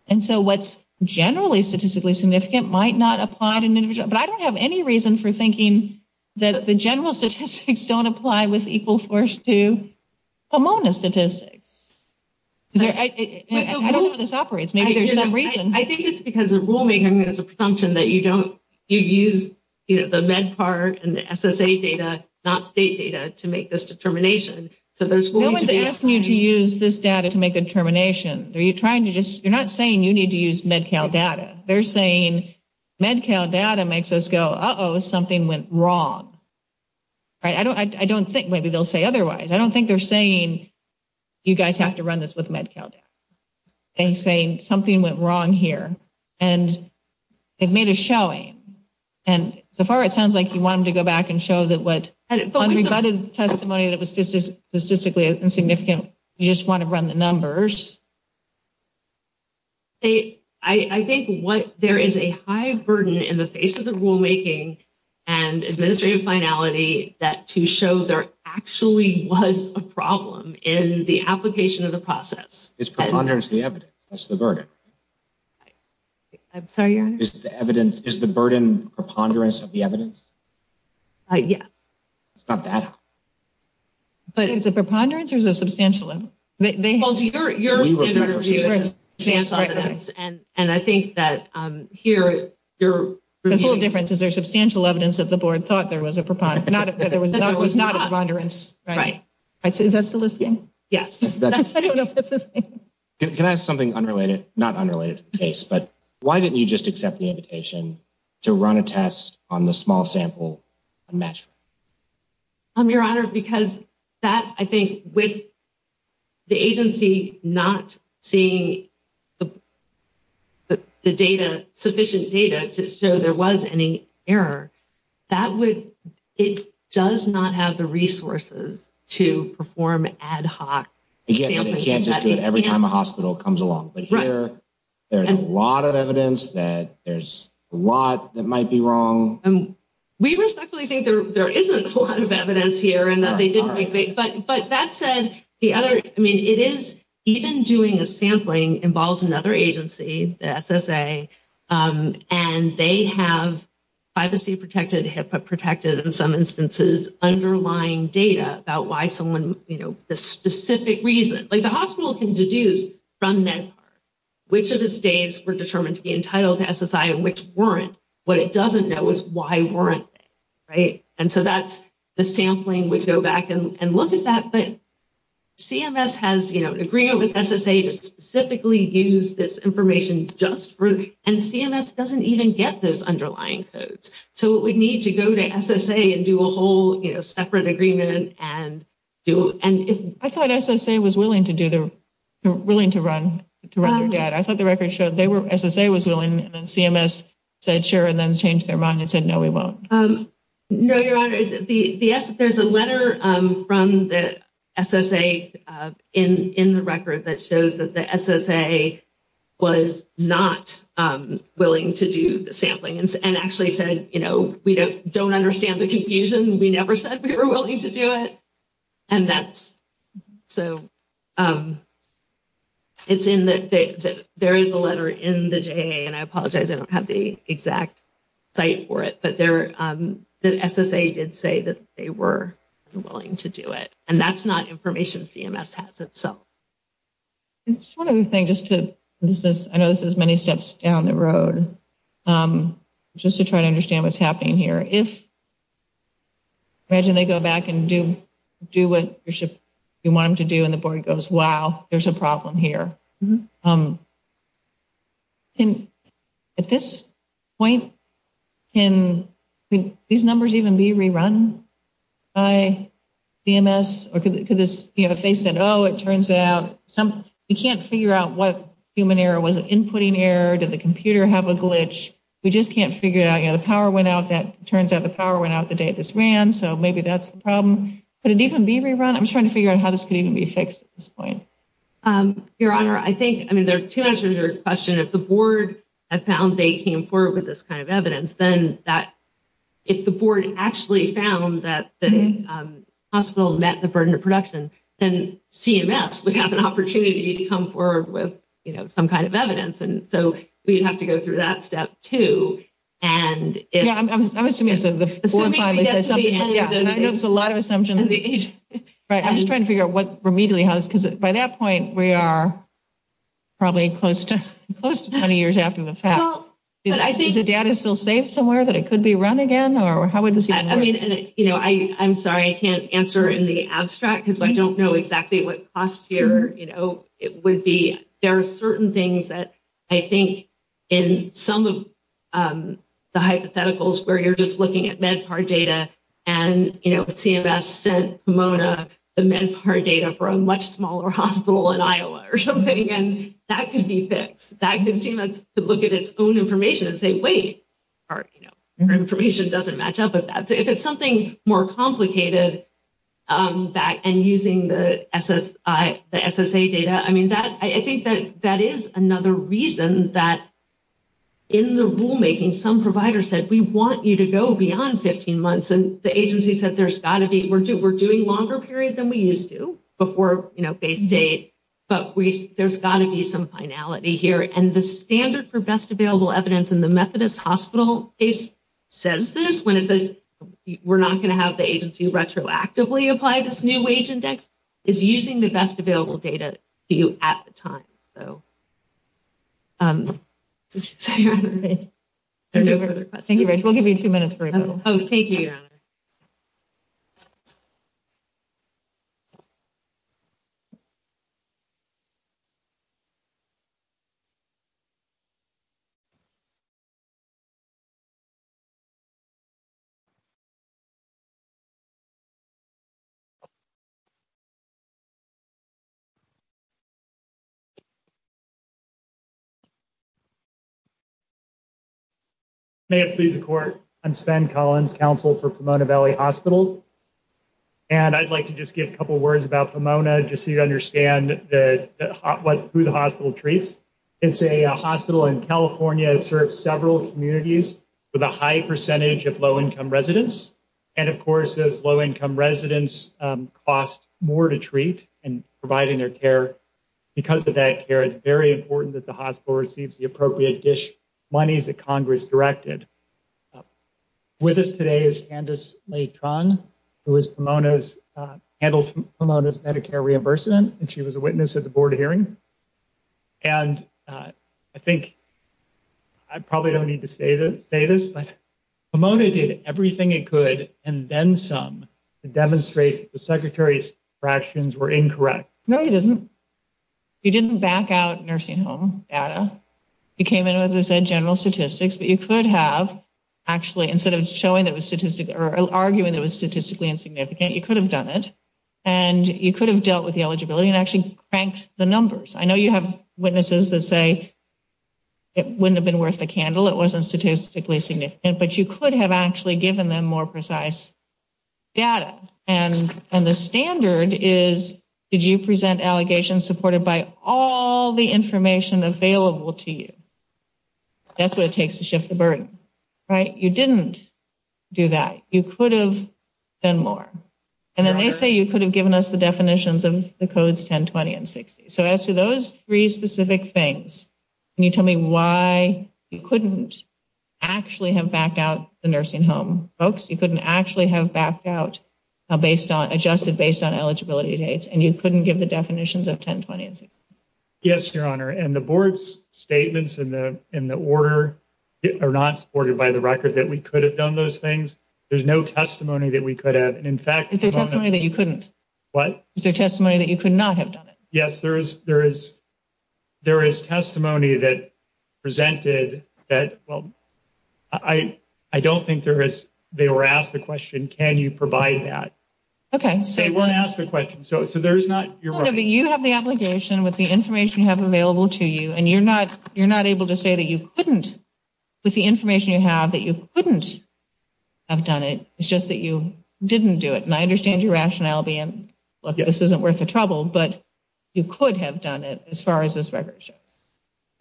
And so, what's generally statistically significant might not apply to—but I don't have any reason for thinking that the general statistics don't apply with equal force to Pomona statistics. I don't know where this operates. Maybe there's some reason. I think it's because the rulemaking is a function that you don't—you use, you know, the Med part and the SSA data, not state data, to make this determination. So, there's— They don't need to use this data to make a determination. You're trying to just—you're not saying you need to use Med-Cal data. They're saying Med-Cal data makes us go, uh-oh, something went wrong. I don't think maybe they'll say otherwise. I don't think they're saying you guys have to run this with Med-Cal data. They're saying something went wrong here, and it made a showing. And so far, it sounds like you wanted to go back and show that what—regarding the testimony that was statistically insignificant, you just want to run the numbers. I think what—there is a high burden in the face of the rulemaking and administrative finality that to show there actually was a problem in the application of the process. It's preponderance of the evidence. That's the burden. I'm sorry, your Honor? It's the evidence. Is the burden preponderance of the evidence? Yes. It's not bad. But is it preponderance or is it a substantial one? Well, you're an interviewer. And I think that here— The full difference is there's substantial evidence that the board thought there was a preponderance. But it was not a preponderance. Right. Is that soliciting? Yes. I don't know if that's soliciting. Can I ask something unrelated? Not unrelated to the case, but why didn't you just accept the invitation to run a test on the small sample? Your Honor, because that, I think, with the agency not seeing the data, sufficient data to show there was any error, that would—it does not have the resources to perform ad hoc— You get the chances every time the hospital comes along. Right. But here, there's a lot of evidence that there's a lot that might be wrong. We respectfully think there isn't a lot of evidence here and that they didn't make the— But that said, the other—I mean, it is—even doing a sampling involves another agency, the SSA, and they have privacy-protected, HIPAA-protected, in some instances, underlying data about why someone—you know, the specific reason. Like, the hospital can deduce from this which of the states were determined to be entitled to SSI and which weren't. What it doesn't know is why weren't they, right? And so that's—the sampling would go back and look at that, but CMS has, you know, an agreement with SSA that specifically uses this information just for—and CMS doesn't even get those underlying codes. So it would need to go to SSA and do a whole, you know, separate agreement and do— I thought SSA was willing to do the—willing to run the data. I thought the record showed they were—SSA was willing, and then CMS said, sure, and then changed their mind and said, no, we won't. No, Your Honor. There's a letter from the SSA in the record that shows that the SSA was not willing to do the sampling and actually said, you know, we don't understand the confusion. We never said we were willing to do it. And that's—so it's in the—there is a letter in the JAA, and I apologize I don't have the exact site for it, but there—the SSA did say that they were willing to do it, and that's not information CMS has itself. Just one other thing, just to—I know this is many steps down the road, just to try to understand what's happening here. If—imagine they go back and do what you want them to do, and the board goes, wow, there's a problem here. At this point, can these numbers even be rerun by CMS? Or could this—you know, if they said, oh, it turns out some—you can't figure out what human error was, inputting error, did the computer have a glitch? We just can't figure out, you know, the power went out. That turns out the power went out the day this ran, so maybe that's the problem. Could it even be rerun? I'm trying to figure out how this could even be fixed at this point. Your Honor, I think—I mean, there are two answers to this question. If the board had found they came forward with this kind of evidence, then that—if the board actually found that the hospital met the burden of production, then CMS would have an opportunity to come forward with, you know, some kind of evidence. And so we'd have to go through that step, too. And if— Yeah, I'm assuming it's a— Assumption, yes. That's a lot of assumptions. Right. I'm just trying to figure out what remedially has—because by that point, we are probably close to 20 years after the fact. Well, but I think— Is the data still safe somewhere that it could be run again? Or how would this be fixed? I mean, you know, I'm sorry I can't answer in the abstract because I don't know exactly what cost here, you know, it would be. I mean, there are certain things that I think in some of the hypotheticals where you're just looking at MedPAR data and, you know, CMS sent Pomona the MedPAR data for a much smaller hospital in Iowa or something, and that could be fixed. That could be to look at its own information and say, wait, our information doesn't match up with that. If it's something more complicated and using the SSA data, I mean, that—I think that that is another reason that in the rulemaking, some providers said, we want you to go beyond 15 months. And the agency said, there's got to be—we're doing longer periods than we used to before, you know, phase date, but there's got to be some finality here. And the standard for best available evidence in the Methodist Hospital case says this, when it says we're not going to have the agency retroactively apply this new wage index, is using the best available data to you at the time. Thank you, Rachel. We'll give you two minutes for— Oh, thank you. May I please report? I'm Sven Collins, Counsel for Pomona Valley Hospitals. And I'd like to just get a couple words about Pomona, just so you understand who the hospital treats. It's a hospital in California that serves several communities with a high percentage of low-income residents. And, of course, those low-income residents cost more to treat in providing their care. Because of that care, it's very important that the hospital receives the appropriate money that Congress directed. With us today is Candice Leighton, who is Pomona's—handles Pomona's Medicare reimbursement, and she was a witness at the board hearing. And I think I probably don't need to say this, but Pomona did everything it could, and then some, to demonstrate that the Secretary's fractions were incorrect. No, he didn't. He didn't back out nursing home data. He came in with, as I said, general statistics. Instead of arguing that it was statistically insignificant, you could have done it. And you could have dealt with the eligibility and actually cranked the numbers. I know you have witnesses that say it wouldn't have been worth a candle, it wasn't statistically significant. But you could have actually given them more precise data. And the standard is, did you present allegations supported by all the information available to you? That's what it takes to shift the burden, right? You didn't do that. You could have done more. And then they say you could have given us the definitions of the codes 10, 20, and 60. So as to those three specific things, can you tell me why you couldn't actually have backed out the nursing home? Folks, you couldn't actually have backed out based on—adjusted based on eligibility dates, and you couldn't give the definitions of 10, 20, and 60. Yes, Your Honor, and the board's statements in the order are not supported by the record that we could have done those things. There's no testimony that we could have. Is there testimony that you couldn't? What? Is there testimony that you could not have done it? Yes, there is testimony that presented that—well, I don't think there is—they were asked the question, can you provide that? Okay. They weren't asked the question, so there's not— You have the obligation with the information you have available to you, and you're not able to say that you couldn't. With the information you have, that you couldn't have done it. It's just that you didn't do it, and I understand your rationality, and this isn't worth the trouble, but you could have done it as far as this record shows.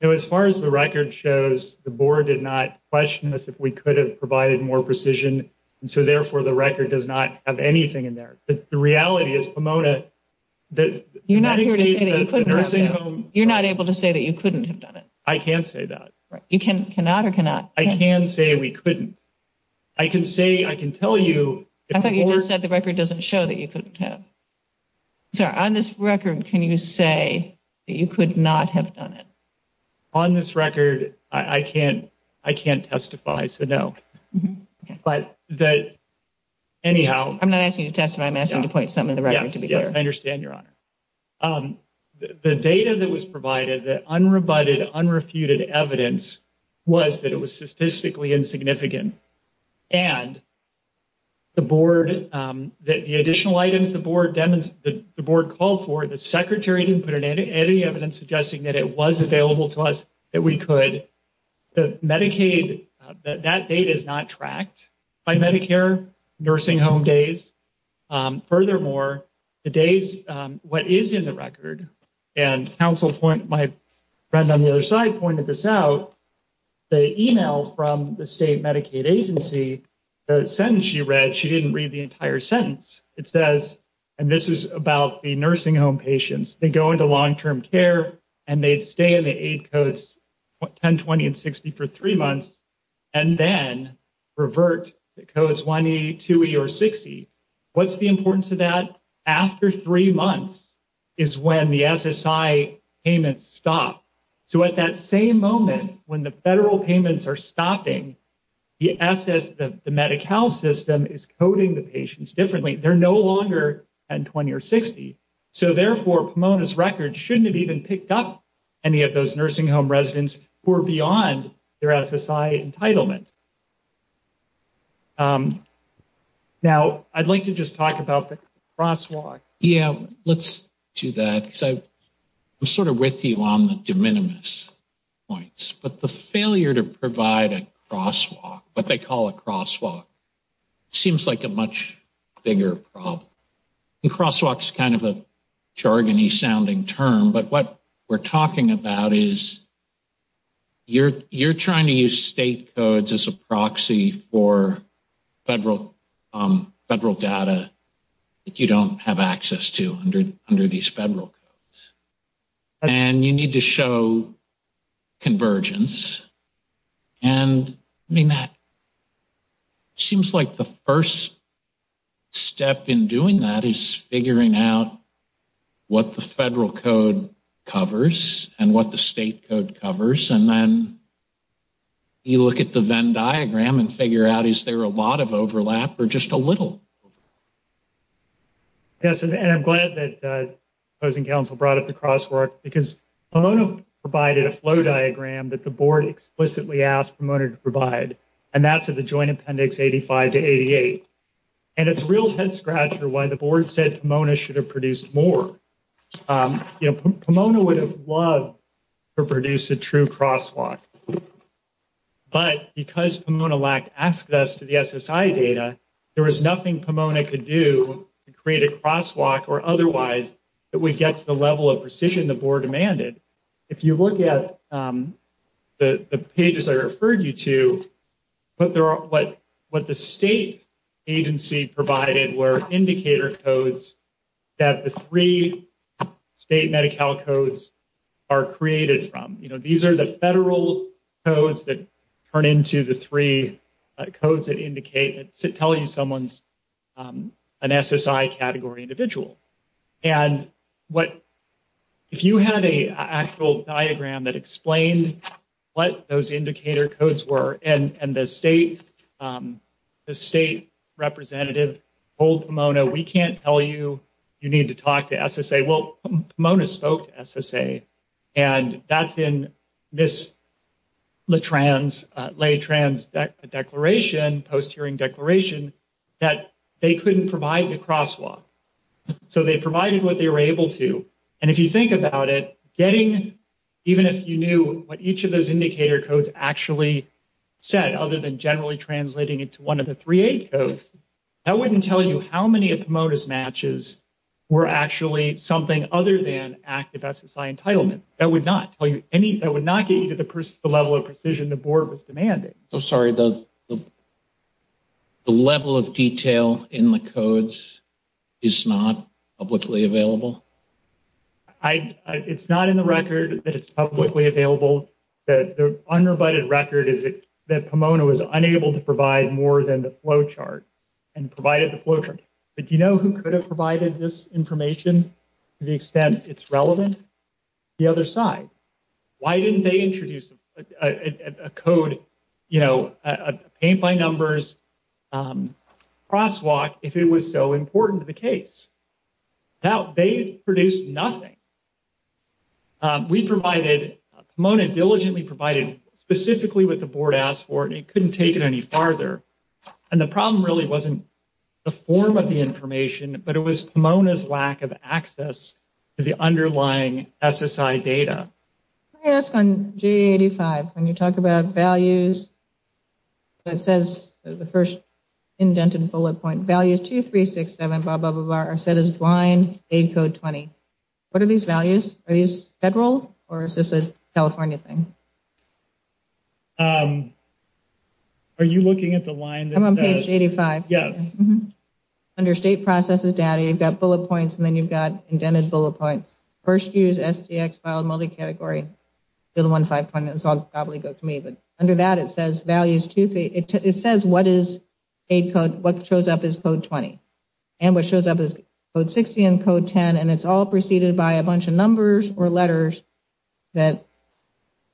As far as the record shows, the board did not question us if we could have provided more precision, and so therefore the record does not have anything in there. The reality is, Pomona, that— You're not able to say that you couldn't have done it. I can say that. You cannot or cannot? I can say we couldn't. I can say—I can tell you— I thought you said the record doesn't show that you couldn't have. So, on this record, can you say that you could not have done it? On this record, I can't testify, so no. But— That, anyhow— I'm not asking you to testify. I'm asking you to point something to the record to be clear. I understand, Your Honor. The data that was provided, the unrebutted, unrefuted evidence, was that it was statistically insignificant. And the board—the additional items the board called for, the secretary didn't put any evidence suggesting that it was available to us, that we could. Medicaid—that data is not tracked by Medicare nursing home days. Furthermore, the days—what is in the record, and counsel—my friend on the other side pointed this out, the email from the state Medicaid agency, the sentence she read, she didn't read the entire sentence. It says—and this is about the nursing home patients—they go into long-term care, and they stay in the eight codes—10, 20, and 60—for three months, and then revert to codes 1E, 2E, or 60. What's the importance of that? After three months is when the SSI payments stop. So at that same moment, when the federal payments are stopping, the SS—the Medi-Cal system is coding the patients differently. They're no longer 10, 20, or 60. So therefore, Pomona's record shouldn't have even picked up any of those nursing home residents who are beyond their SSI entitlement. Now, I'd like to just talk about the crosswalk. Yeah, let's do that. I'm sort of with you on the de minimis points, but the failure to provide a crosswalk—what they call a crosswalk—seems like a much bigger problem. Crosswalk's kind of a jargony-sounding term, but what we're talking about is you're trying to use state codes as a proxy for federal data that you don't have access to under these federal codes. And you need to show convergence. And, I mean, that seems like the first step in doing that is figuring out what the federal code covers and what the state code covers. And then you look at the Venn diagram and figure out, is there a lot of overlap or just a little? Yes, and I'm glad that the opposing counsel brought up the crosswalk because Pomona provided a flow diagram that the board explicitly asked Pomona to provide, and that's at the Joint Appendix 85 to 88. And it's a real head-scratcher why the board said Pomona should have produced more. You know, Pomona would have loved to have produced a true crosswalk. But because Pomona asked us for the SSI data, there was nothing Pomona could do to create a crosswalk or otherwise that would get to the level of precision the board demanded. If you look at the pages I referred you to, what the state agency provided were indicator codes that the three state Medi-Cal codes are created from. These are the federal codes that turn into the three codes that tell you someone's an SSI category individual. And if you had an actual diagram that explained what those indicator codes were and the state representative told Pomona, we can't tell you, you need to talk to SSA, well, Pomona spoke to SSA. And that's in this Le Trans declaration, post-hearing declaration, that they couldn't provide the crosswalk. So they provided what they were able to. And if you think about it, getting, even if you knew what each of those indicator codes actually said, other than generally translating it to one of the 3A codes, that wouldn't tell you how many of Pomona's matches were actually something other than active SSI entitlement. That would not tell you any, that would not get you to the level of precision the board was demanding. I'm sorry, the level of detail in the codes is not publicly available? It's not in the record that it's publicly available. The unrevited record is that Pomona was unable to provide more than the flowchart and provided the flowchart. But do you know who could have provided this information to the extent it's relevant? The other side. Why didn't they introduce a code, you know, a paint-by-numbers crosswalk if it was so important to the case? Now, they produced nothing. We provided, Pomona diligently provided specifically what the board asked for, and it couldn't take it any farther. And the problem really wasn't the form of the information, but it was Pomona's lack of access to the underlying SSI data. Let me ask on GA85. When you talk about values, it says, the first indented bullet point, values 2367, blah, blah, blah, blah, are set as line aid code 20. What are these values? Are these federal or is this a California thing? Are you looking at the line? I'm looking at GA85. Yes. Under state processes data, you've got bullet points and then you've got indented bullet points. First use, STX file, multi-category, 015. Under that, it says what shows up is code 20. And what shows up is code 60 and code 10. And it's all preceded by a bunch of numbers or letters that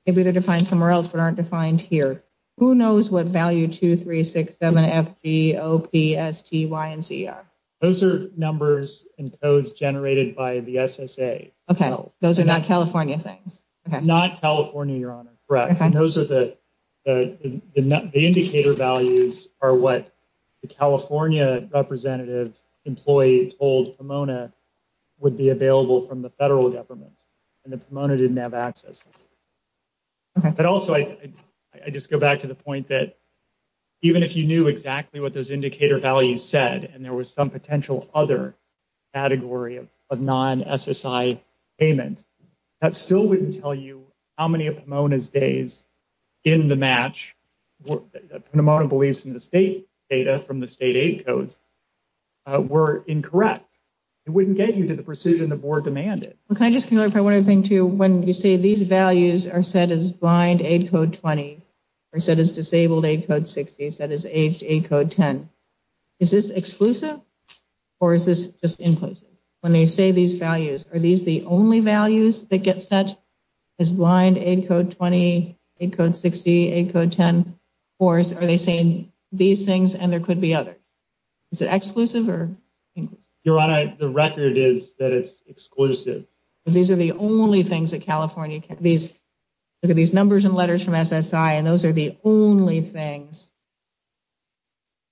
could be defined somewhere else but aren't defined here. Who knows what value 2367FGOPSTYNC are? Those are numbers and codes generated by the SSA. Okay. Those are not California things. Not California, Your Honor. Correct. Those are the indicator values are what the California representative employee told Pomona would be available from the federal government. And then Pomona didn't have access. But also, I just go back to the point that even if you knew exactly what those indicator values said and there was some potential other category of non-SSI payment, that still wouldn't tell you how many of Pomona's days in the match, Pomona believes in the state data from the state aid codes, were incorrect. It wouldn't get you to the precision the board demanded. Well, can I just be clear if I want to bring to you when you say these values are set as blind aid code 20 or set as disabled aid code 60, set as aged aid code 10. Is this exclusive or is this just implicit? When they say these values, are these the only values that get set as blind aid code 20, aid code 60, aid code 10? Or are they saying these things and there could be others? Is it exclusive or implicit? Your Honor, the record is that it's exclusive. These are the only things that California, these numbers and letters from SSI, and those are the only things,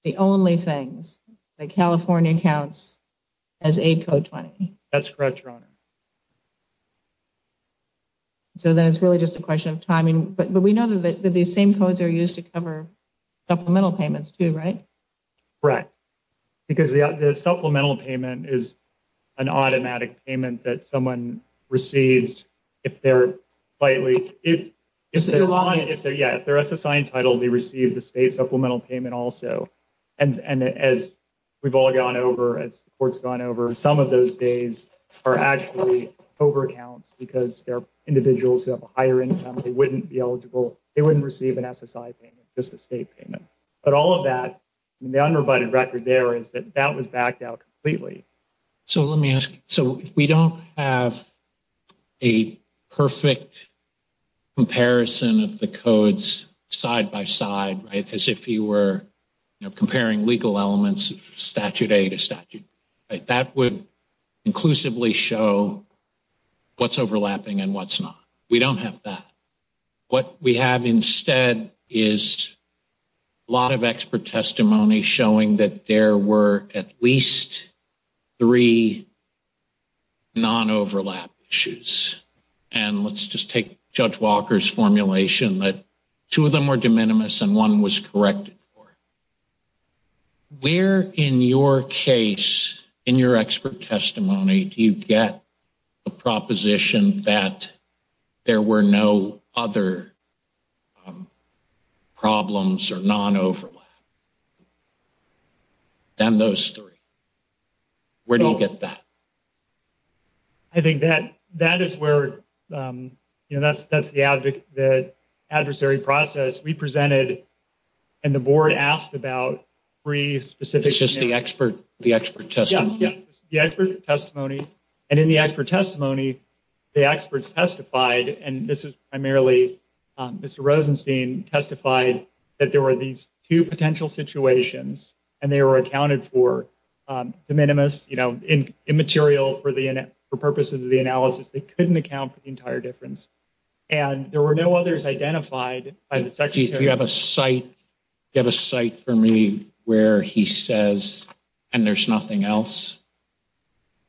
the only things that California counts as aid code 20. That's correct, Your Honor. So then it's really just a question of timing. But we know that these same codes are used to cover supplemental payments too, right? Correct. Because the supplemental payment is an automatic payment that someone receives if they're slightly, if they're SSI entitled, they receive the state supplemental payment also. And as we've all gone over, as the court's gone over, some of those days are actually over-accounts because they're individuals who have a higher income, they wouldn't be eligible, they wouldn't receive an SSI payment, just a state payment. But all of that, the unrebutted record there is that that was backed out completely. So let me ask you, so we don't have a perfect comparison of the codes side by side, right, as if you were comparing legal elements of statute A to statute B, right? That would inclusively show what's overlapping and what's not. We don't have that. What we have instead is a lot of expert testimony showing that there were at least three non-overlap issues. And let's just take Judge Walker's formulation that two of them were de minimis and one was corrected for. Where in your case, in your expert testimony, do you get a proposition that there were no other problems or non-overlap than those three? Where do you get that? I think that is where, you know, that's the adversary process. We presented and the board asked about three specific issues. The expert testimony. Yeah, the expert testimony. And in the expert testimony, the experts testified, and this is primarily Mr. Rosenstein, testified that there were these two potential situations, and they were accounted for de minimis, you know, immaterial for purposes of the analysis. They couldn't account for the entire difference. And there were no others identified. Do you have a site for me where he says, and there's nothing else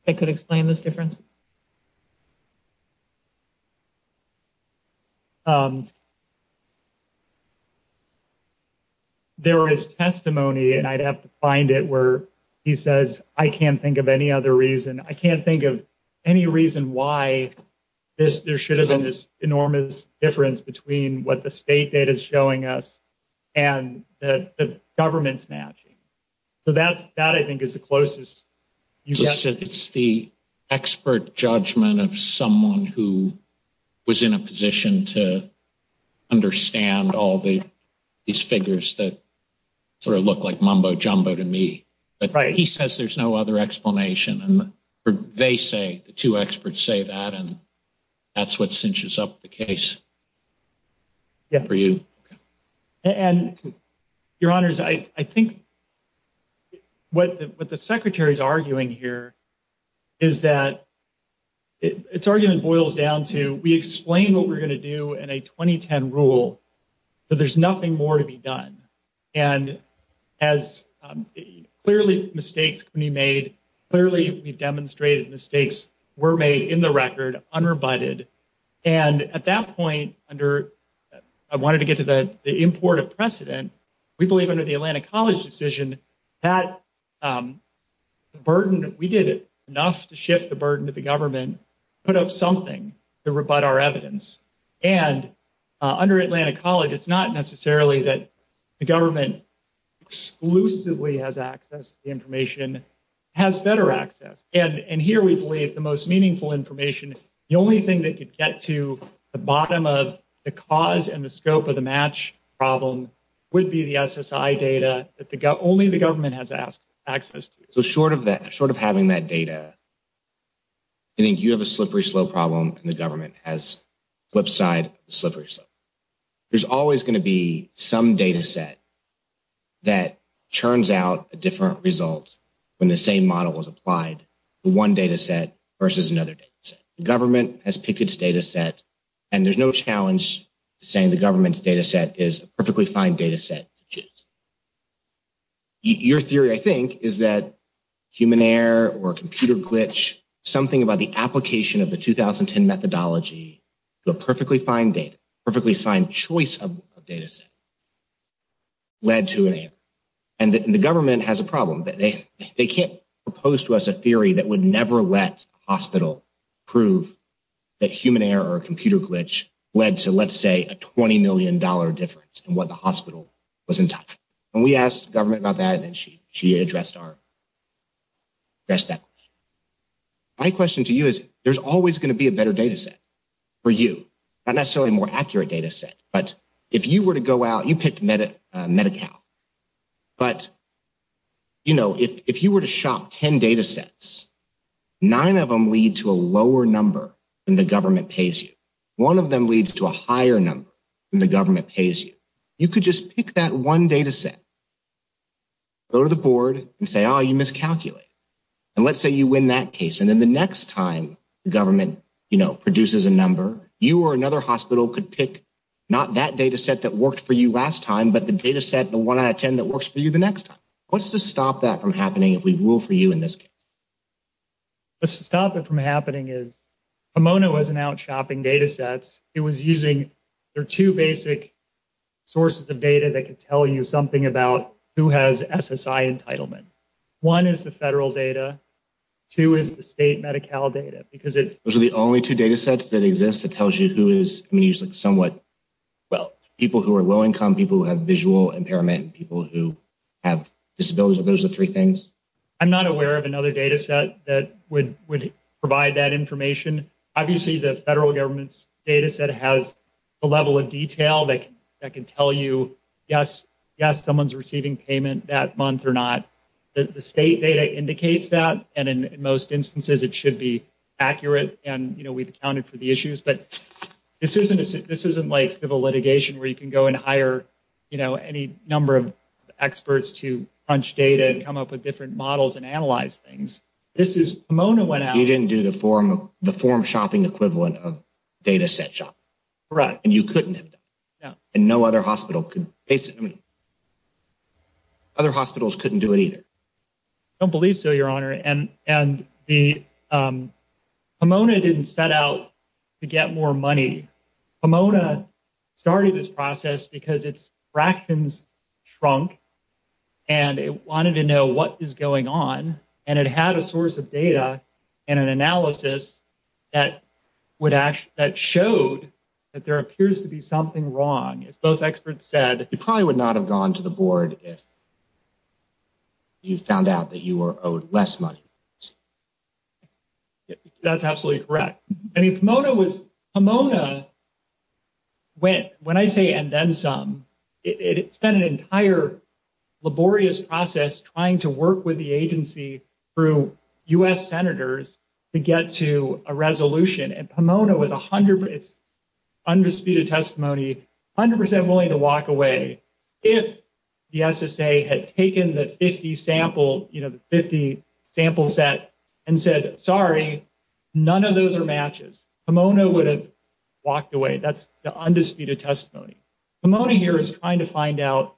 that could explain this difference? There is testimony, and I'd have to find it where he says, I can't think of any other reason. I can't think of any reason why there should have been this enormous difference between what the state data is showing us and the government's matching. So that, I think, is the closest. It's the expert judgment of someone who was in a position to understand all these figures that sort of look like mumbo jumbo to me. But he says there's no other explanation. And they say, the two experts say that, and that's what cinches up the case for you. And, Your Honors, I think what the Secretary's arguing here is that its argument boils down to, we explain what we're going to do in a 2010 rule, but there's nothing more to be done. And as clearly mistakes can be made, clearly we demonstrated mistakes were made in the record, unrebutted. And at that point, I wanted to get to the import of precedent. We believe under the Atlantic College decision that the burden that we did enough to shift the burden to the government put up something to rebut our evidence. And under Atlantic College, it's not necessarily that the government exclusively has access to the information. It has better access. And here we believe the most meaningful information, the only thing that could get to the bottom of the cause and the scope of the match problem would be the SSI data that only the government has access to. So short of having that data, I think you have a slippery slope problem, and the government has flip side, slippery slope. There's always going to be some data set that churns out a different result when the same model is applied, one data set versus another data set. The government has picked its data set, and there's no challenge to saying the government's data set is a perfectly fine data set. Your theory, I think, is that human error or computer glitch, something about the application of the 2010 methodology, the perfectly fine data, perfectly fine choice of data set, led to an error. And we asked the government about that, and she addressed that. My question to you is there's always going to be a better data set for you, not necessarily a more accurate data set. But if you were to go out, you picked Medi-Cal, but, you know, if you were to shop 10 data sets, nine of them lead to a lower number than the government pays you. One of them leads to a higher number than the government pays you. You could just pick that one data set, go to the board, and say, oh, you miscalculated. And let's say you win that case, and then the next time the government, you know, produces a number, you or another hospital could pick not that data set that worked for you last time, but the data set, the one out of 10 that works for you the next time. What's to stop that from happening if we rule for you in this case? What's to stop it from happening is Pomona was now shopping data sets. It was using their two basic sources of data that could tell you something about who has SSI entitlement. One is the federal data. Two is the state Medi-Cal data, because it's… Those are the only two data sets that exist that tells you who is, I mean, you said somewhat, well, people who are low-income, people who have visual impairment, people who have disabilities. Those are the three things. I'm not aware of another data set that would provide that information. Obviously, the federal government's data set has a level of detail that can tell you, yes, someone's receiving payment that month or not. The state data indicates that, and in most instances, it should be accurate, and, you know, we've accounted for the issues. But this isn't like civil litigation where you can go and hire, you know, any number of experts to punch data and come up with different models and analyze things. This is… You didn't do the form shopping equivalent of data set shopping. Correct. And you couldn't. No. And no other hospital could. Other hospitals couldn't do it either. I don't believe so, Your Honor. And the…Pomona didn't set out to get more money. Pomona started this process because its fractions shrunk, and it wanted to know what was going on, and it had a source of data and an analysis that showed that there appears to be something wrong. If those experts said… You probably would not have gone to the board if you found out that you were owed less money. That's absolutely correct. And if Pomona was…Pomona went, when I say and then some, it spent an entire laborious process trying to work with the agency through U.S. senators to get to a resolution. And Pomona was 100%…undisputed testimony, 100% willing to walk away if the SSA had taken the 50 sample set and said, sorry, none of those are matches. Pomona would have walked away. That's the undisputed testimony. Pomona here is trying to find out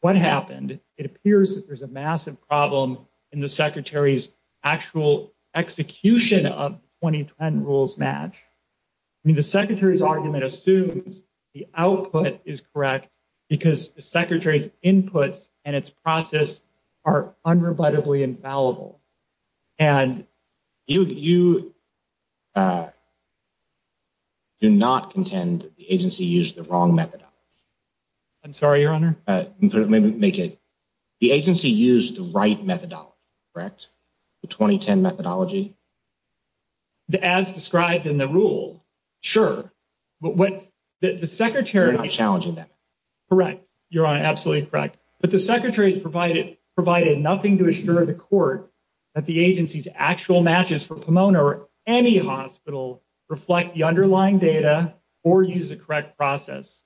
what happened. And it appears that there's a massive problem in the secretary's actual execution of the 2010 rules match. I mean, the secretary's argument assumes the output is correct because the secretary's inputs and its process are unrebuttably infallible. And you do not contend that the agency used the wrong method. I'm sorry, Your Honor? Make it. The agency used the right methodology, correct? The 2010 methodology? As described in the rule, sure. But what the secretary… You're not challenging that. Correct, Your Honor. Absolutely correct. But the secretary provided nothing to assure the court that the agency's actual matches for Pomona or any hospital reflect the underlying data or use the correct process.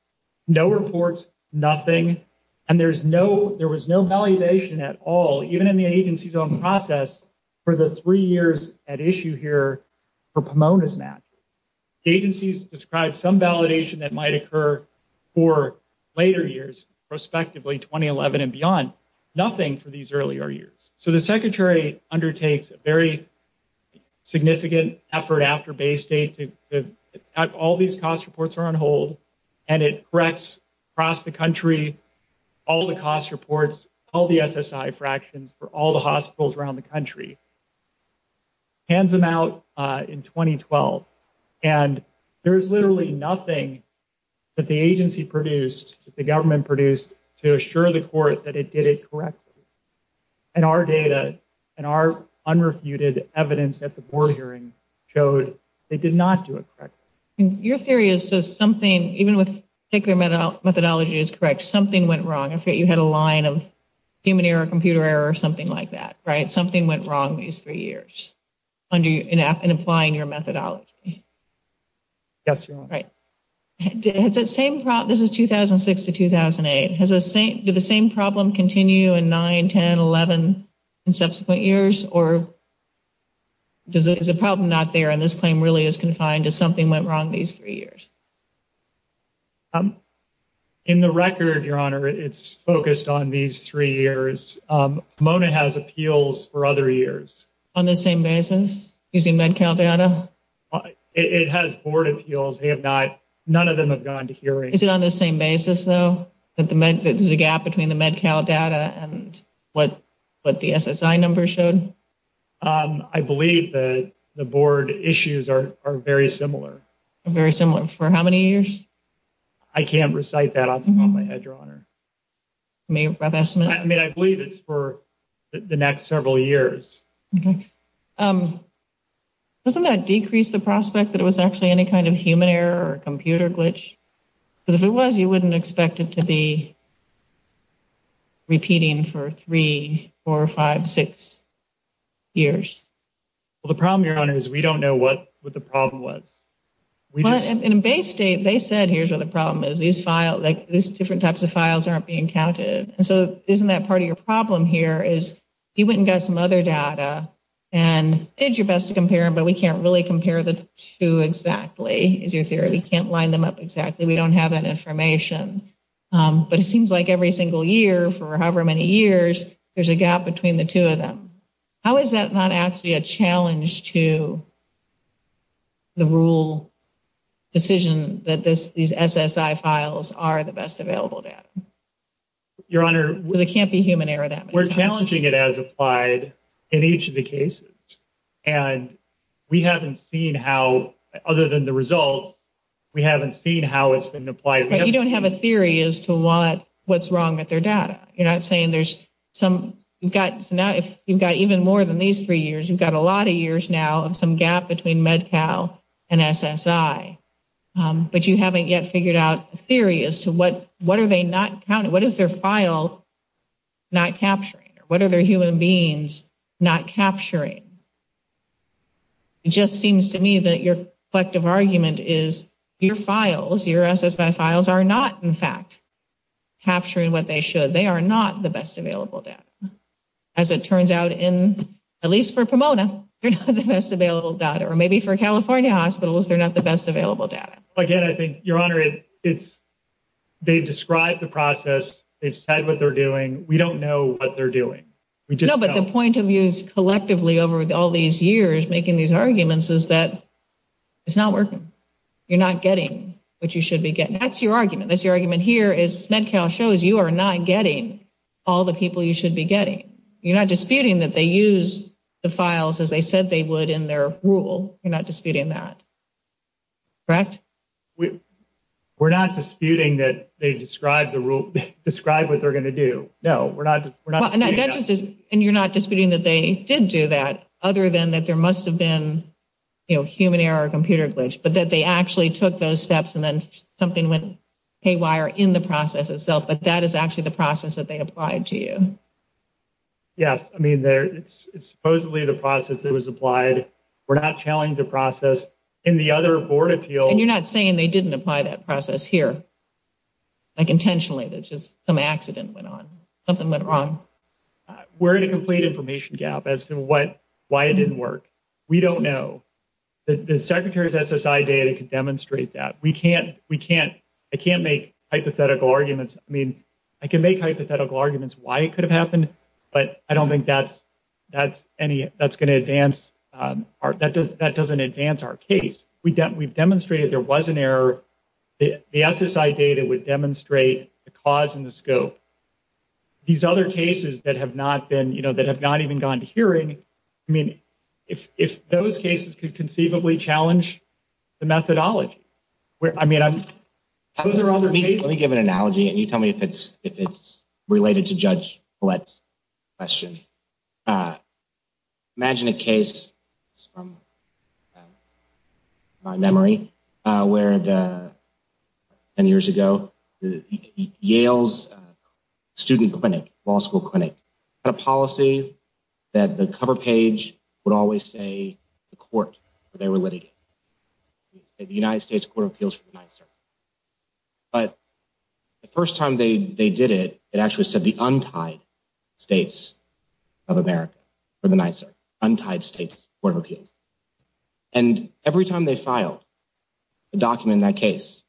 No reports, nothing. And there was no validation at all, even in the agency's own process, for the three years at issue here for Pomona's match. The agency's described some validation that might occur for later years, prospectively 2011 and beyond. Nothing for these earlier years. So the secretary undertakes a very significant effort after Bay State to have all these cost reports are on hold. And it corrects across the country all the cost reports, all the SSI fractions for all the hospitals around the country. Hands them out in 2012. And there's literally nothing that the agency produced, that the government produced, to assure the court that it did it correctly. And our data and our unrefuted evidence at the board hearing showed it did not do it correctly. Your theory is that something, even with particular methodology is correct, something went wrong. I forget, you had a line of human error, computer error, or something like that, right? Something went wrong these three years in applying your methodology. Yes, Your Honor. This is 2006 to 2008. Did the same problem continue in 9, 10, 11 and subsequent years? Or is the problem not there and this claim really is confined to something went wrong these three years? In the record, Your Honor, it's focused on these three years. Pomona has appeals for other years. On the same basis, using Med-Cal data? It has board appeals. They have not, none of them have gone to hearings. Is it on the same basis, though, that the gap between the Med-Cal data and what the SSI numbers showed? I believe the board issues are very similar. Very similar. For how many years? I can't recite that off the top of my head, Your Honor. I believe it's for the next several years. Okay. Doesn't that decrease the prospect that it was actually any kind of human error or computer glitch? Because if it was, you wouldn't expect it to be repeating for three, four, five, six years. Well, the problem, Your Honor, is we don't know what the problem was. In base state, they said here's what the problem is. These different types of files aren't being counted. And so isn't that part of your problem here is you went and got some other data and did your best to compare them, but we can't really compare the two exactly is your theory. We can't line them up exactly. We don't have that information. But it seems like every single year for however many years, there's a gap between the two of them. How is that not actually a challenge to the rule decision that these SSI files are the best available data? Your Honor, we're challenging it as applied in each of the cases. And we haven't seen how, other than the results, we haven't seen how it's been applied. But you don't have a theory as to what's wrong with their data. You're not saying there's some – you've got even more than these three years. You've got a lot of years now of some gap between MedCal and SSI. But you haven't yet figured out a theory as to what are they not counting? What is their file not capturing? What are their human beings not capturing? It just seems to me that your collective argument is your files, your SSI files, are not, in fact, capturing what they should. They are not the best available data. As it turns out, at least for Pomona, they're not the best available data. Or maybe for California hospitals, they're not the best available data. Again, I think, Your Honor, they've described the process. They've said what they're doing. We don't know what they're doing. No, but the point of view collectively over all these years making these arguments is that it's not working. You're not getting what you should be getting. That's your argument. That's your argument here is MedCal shows you are not getting all the people you should be getting. You're not disputing that they use the files as they said they would in their rule. You're not disputing that. Correct? We're not disputing that they describe what they're going to do. No, we're not disputing that. And you're not disputing that they did do that other than that there must have been, you know, human error or computer glitch, but that they actually took those steps and then something went haywire in the process itself, but that is actually the process that they applied to you. Yes. I mean, it's supposedly the process that was applied. We're not challenging the process. In the other board appeal. And you're not saying they didn't apply that process here, like intentionally. It's just some accident went on. Something went wrong. We're in a complete information gap as to why it didn't work. We don't know. The secretary's SSI data could demonstrate that. We can't. We can't. I can't make hypothetical arguments. I mean, I can make hypothetical arguments why it could have happened, but I don't think that's going to advance. That doesn't advance our case. We've demonstrated there was an error. The SSI data would demonstrate the cause and the scope. These other cases that have not been, you know, that have not even gone to hearing. I mean, if those cases could conceivably challenge the methodology. I mean, those are other cases. Let me give an analogy, and you tell me if it's related to Judge Follett's question. Imagine a case from my memory where, many years ago, Yale's student clinic, law school clinic, had a policy that the cover page would always say the court that they were litigating. The United States Court of Appeals for the Ninth Circuit. But the first time they did it, it actually said the Untied States of America for the Ninth Circuit. Untied States Court of Appeals. And every time they filed a document in that case,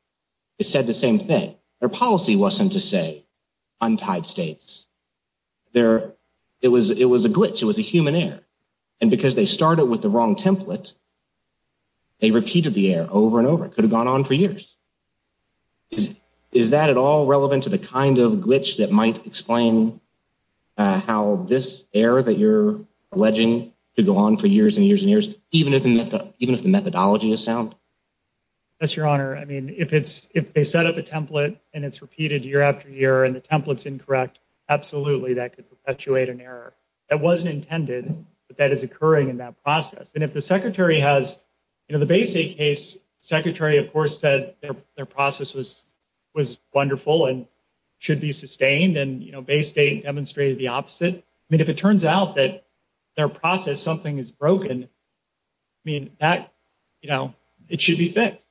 it said the same thing. Their policy wasn't to say Untied States. It was a glitch. It was a human error. And because they started with the wrong template, they repeated the error over and over. It could have gone on for years. Is that at all relevant to the kind of glitch that might explain how this error that you're alleging could go on for years and years and years, even if the methodology is sound? Yes, Your Honor. I mean, if they set up a template, and it's repeated year after year, and the template's incorrect, absolutely, that could perpetuate an error. That wasn't intended, but that is occurring in that process. And if the Secretary has, you know, the Bay State case, the Secretary, of course, said their process was wonderful and should be sustained, and, you know, Bay State demonstrated the opposite. I mean, if it turns out that their process, something is broken, I mean, that, you know, it should be fixed.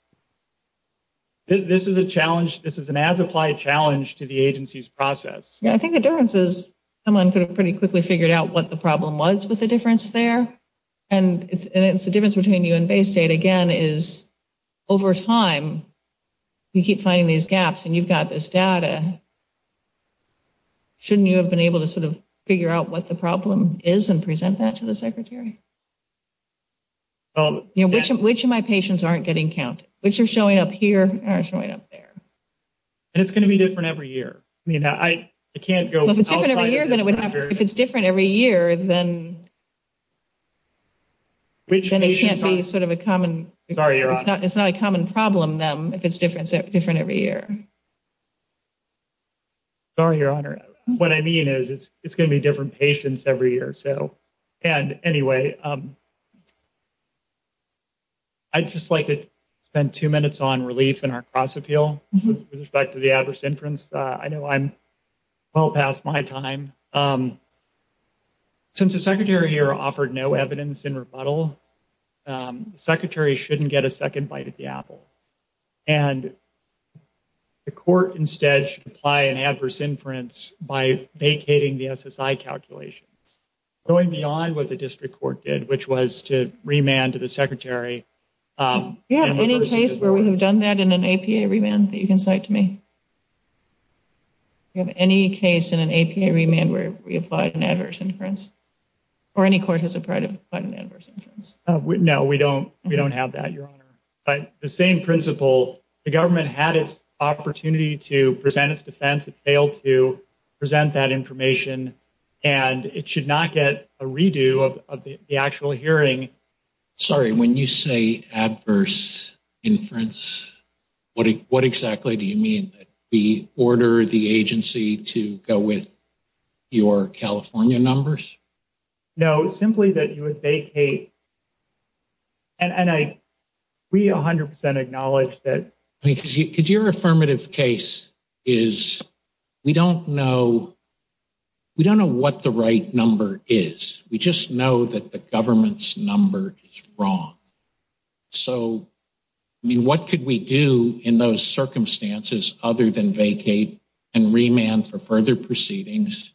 This is a challenge. This is an as-applied challenge to the agency's process. Yeah, I think the difference is someone could have pretty quickly figured out what the problem was with the difference there, and it's the difference between you and Bay State, again, is over time, you keep finding these gaps, and you've got this data. Shouldn't you have been able to sort of figure out what the problem is and present that to the Secretary? Which of my patients aren't getting counted? Which are showing up here or showing up there? And it's going to be different every year. If it's different every year, then it can't be sort of a common problem then if it's different every year. Sorry, Your Honor. What I mean is it's going to be different patients every year. So anyway, I'd just like to spend two minutes on relief and our cost appeal with respect to the adverse inference. I know I'm well past my time. Since the Secretary here offered no evidence in rebuttal, the Secretary shouldn't get a second bite at the apple. And the court instead should apply an adverse inference by vacating the SSI calculations, going beyond what the district court did, which was to remand the Secretary. Do you have any case where we've done that in an APA remand that you can cite to me? Do you have any case in an APA remand where we applied an adverse inference? Or any court has applied an adverse inference? No, we don't have that, Your Honor. But the same principle, the government had its opportunity to present its defense. It failed to present that information. And it should not get a redo of the actual hearing. Sorry, when you say adverse inference, what exactly do you mean? That we order the agency to go with your California numbers? No, simply that you would vacate. And we 100% acknowledge that. Because your affirmative case is, we don't know what the right number is. We just know that the government's number is wrong. So, I mean, what could we do in those circumstances other than vacate and remand for further proceedings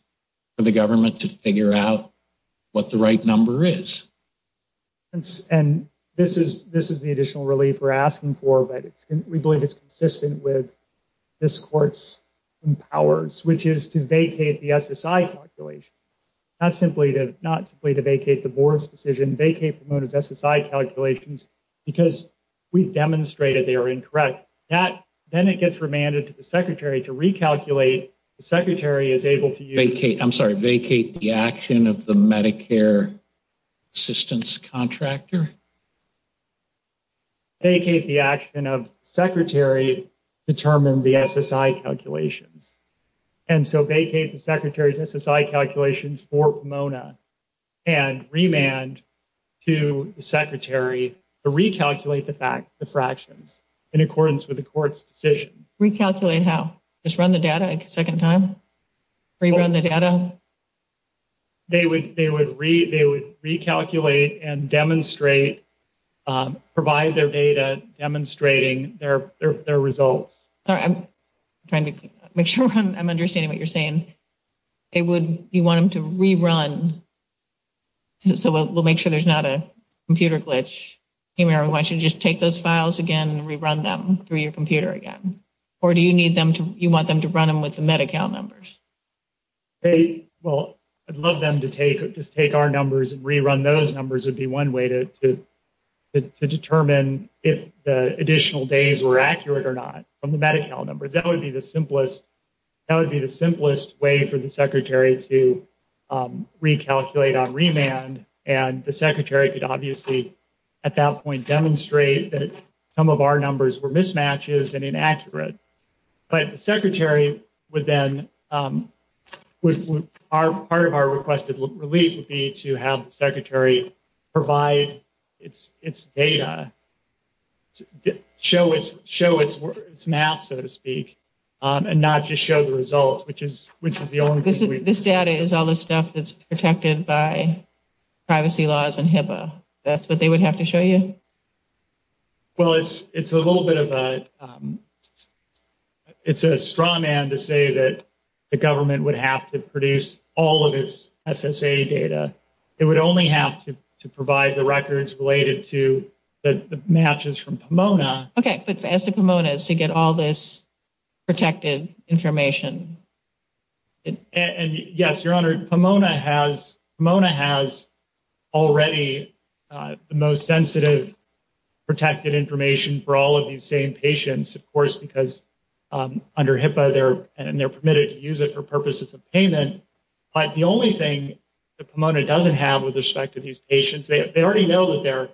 for the government to figure out what the right number is? And this is the additional relief we're asking for, but we believe it's consistent with this court's powers, which is to vacate the SSI calculation. Not simply to vacate the board's decision. Vacate the board's SSI calculations because we've demonstrated they are incorrect. Then it gets remanded to the secretary to recalculate. The secretary is able to use... Vacate, I'm sorry, vacate the action of the Medicare assistance contractor? Vacate the action of the secretary to determine the SSI calculations. And so vacate the secretary's SSI calculations for Pomona and remand to the secretary to recalculate the fractions in accordance with the court's decision. Recalculate how? Just run the data a second time? Rerun the data? They would recalculate and demonstrate, provide their data demonstrating their results. I'm trying to make sure I'm understanding what you're saying. You want them to rerun? So we'll make sure there's not a computer glitch. Why don't you just take those files again and rerun them through your computer again? Or do you want them to run them with the Medi-Cal numbers? Well, I'd love them to just take our numbers and rerun those numbers. Those would be one way to determine if the additional days were accurate or not from the Medi-Cal numbers. That would be the simplest way for the secretary to recalculate on remand. And the secretary could obviously at that point demonstrate that some of our numbers were mismatches and inaccurate. But the secretary would then, part of our requested release would be to have the secretary provide its data, show its map so to speak, and not just show the results. This data is all the stuff that's protected by privacy laws and HIPAA. That's what they would have to show you? Well, it's a little bit of a straw man to say that the government would have to produce all of its SSA data. It would only have to provide the records related to the matches from Pomona. Okay, so it's at the Pomona's to get all this protected information. And yes, your honor, Pomona has already the most sensitive protected information for all of these same patients, of course, because under HIPAA they're permitted to use it for purposes of payment. But the only thing that Pomona doesn't have with respect to these patients, they already know that they're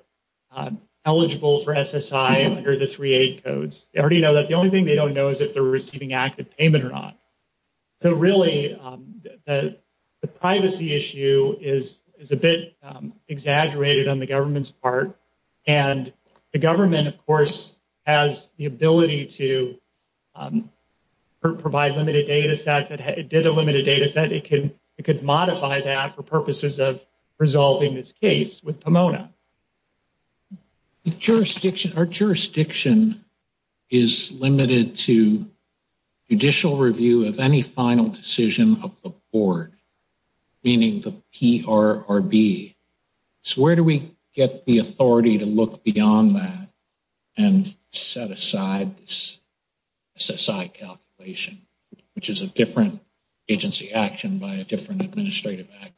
eligible for SSI under the free aid codes. They already know that. The only thing they don't know is if they're receiving active payment or not. So really, the privacy issue is a bit exaggerated on the government's part. And the government, of course, has the ability to provide limited data sets. It did a limited data set. It could modify that for purposes of resolving this case with Pomona. Our jurisdiction is limited to judicial review of any final decision of the board, meaning the PRRB. So where do we get the authority to look beyond that and set aside this SSI calculation, which is a different agency action by a different administrative actor?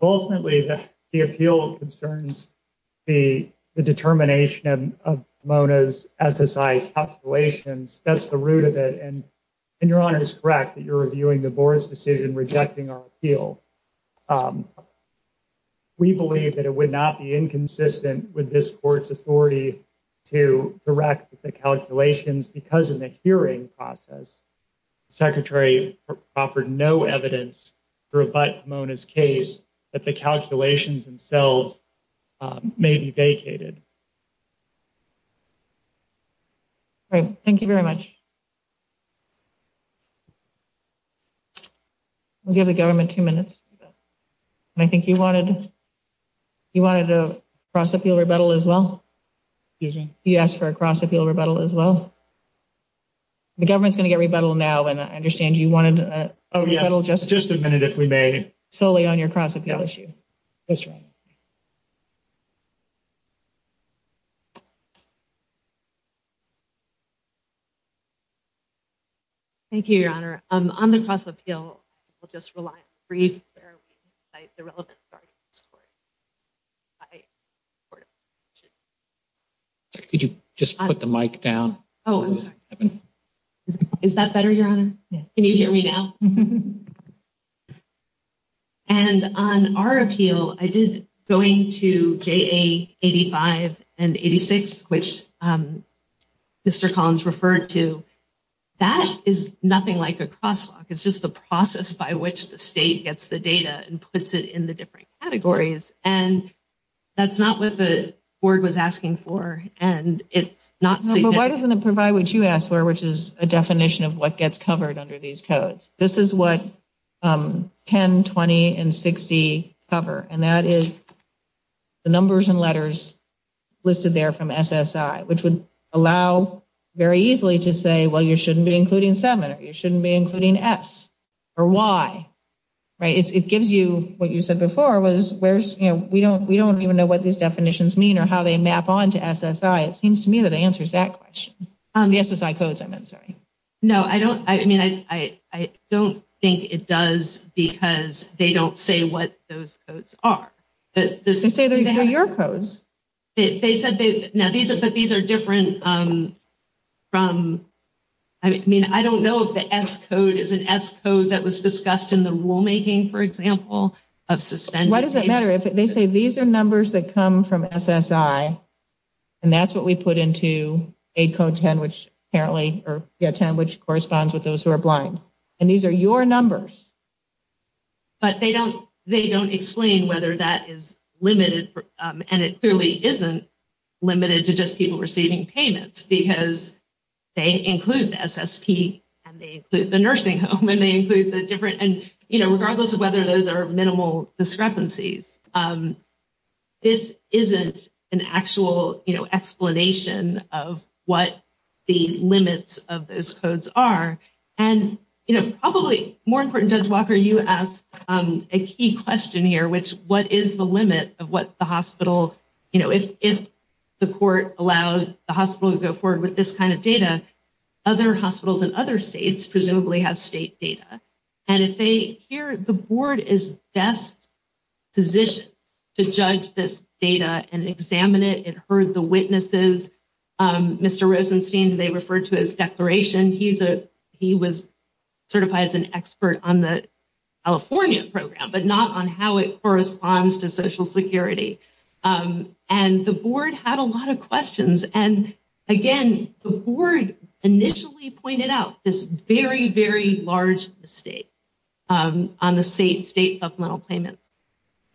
Ultimately, the appeal concerns the determination of Pomona's SSI calculations. That's the root of it. And your honor is correct that you're reviewing the board's decision, rejecting our appeal. We believe that it would not be inconsistent with this court's authority to direct the calculations because of the hearing process. The secretary offered no evidence to rebut Pomona's case that the calculations themselves may be vacated. Thank you very much. We'll give the government two minutes. I think you wanted to cross-appeal rebuttal as well? Excuse me? You asked for a cross-appeal rebuttal as well? The government's going to get rebuttal now, and I understand you wanted a rebuttal just— Just a minute, if we may. —solely on your cross-appeal issue. Yes, your honor. Thank you, your honor. On the cross-appeal, we'll just rely— Could you just put the mic down? Is that better, your honor? Can you hear me now? And on our appeal, it is going to JA 85 and 86, which Mr. Collins referred to. That is nothing like a crosswalk. It's just the process by which the state gets the data and puts it in the different categories. And that's not what the board was asking for, and it's not— Why doesn't it provide what you asked for, which is a definition of what gets covered under these codes? This is what 10, 20, and 60 cover, and that is the numbers and letters listed there from SSI, which would allow very easily to say, well, you shouldn't be including 7, or you shouldn't be including S, or Y. It gives you what you said before was, we don't even know what these definitions mean or how they map on to SSI. It seems to me that it answers that question. The SSI codes, I meant, sorry. No, I don't—I mean, I don't think it does because they don't say what those codes are. They say they're your codes. They said they—now, these are different from—I mean, I don't know if the S code is an S code that was discussed in the rulemaking, for example, of suspending— Why does it matter? They say these are numbers that come from SSI, and that's what we put into aid code 10, which apparently—or, yeah, 10, which corresponds with those who are blind, and these are your numbers. But they don't explain whether that is limited, and it clearly isn't limited to just people receiving payments because they include the SSP, and they include the nursing home, and they include the different— This isn't an actual explanation of what the limits of those codes are. And, you know, probably more important, Judge Walker, you asked a key question here, which, what is the limit of what the hospital— You know, if the court allows the hospital to go forward with this kind of data, other hospitals in other states presumably have state data. And if they hear—the board is best positioned to judge this data and examine it. It heard the witnesses. Mr. Rosenstein, they referred to his declaration. He was certified as an expert on the California program, but not on how it corresponds to Social Security. And the board had a lot of questions. And, again, the board initially pointed out this very, very large mistake on the state supplemental payment.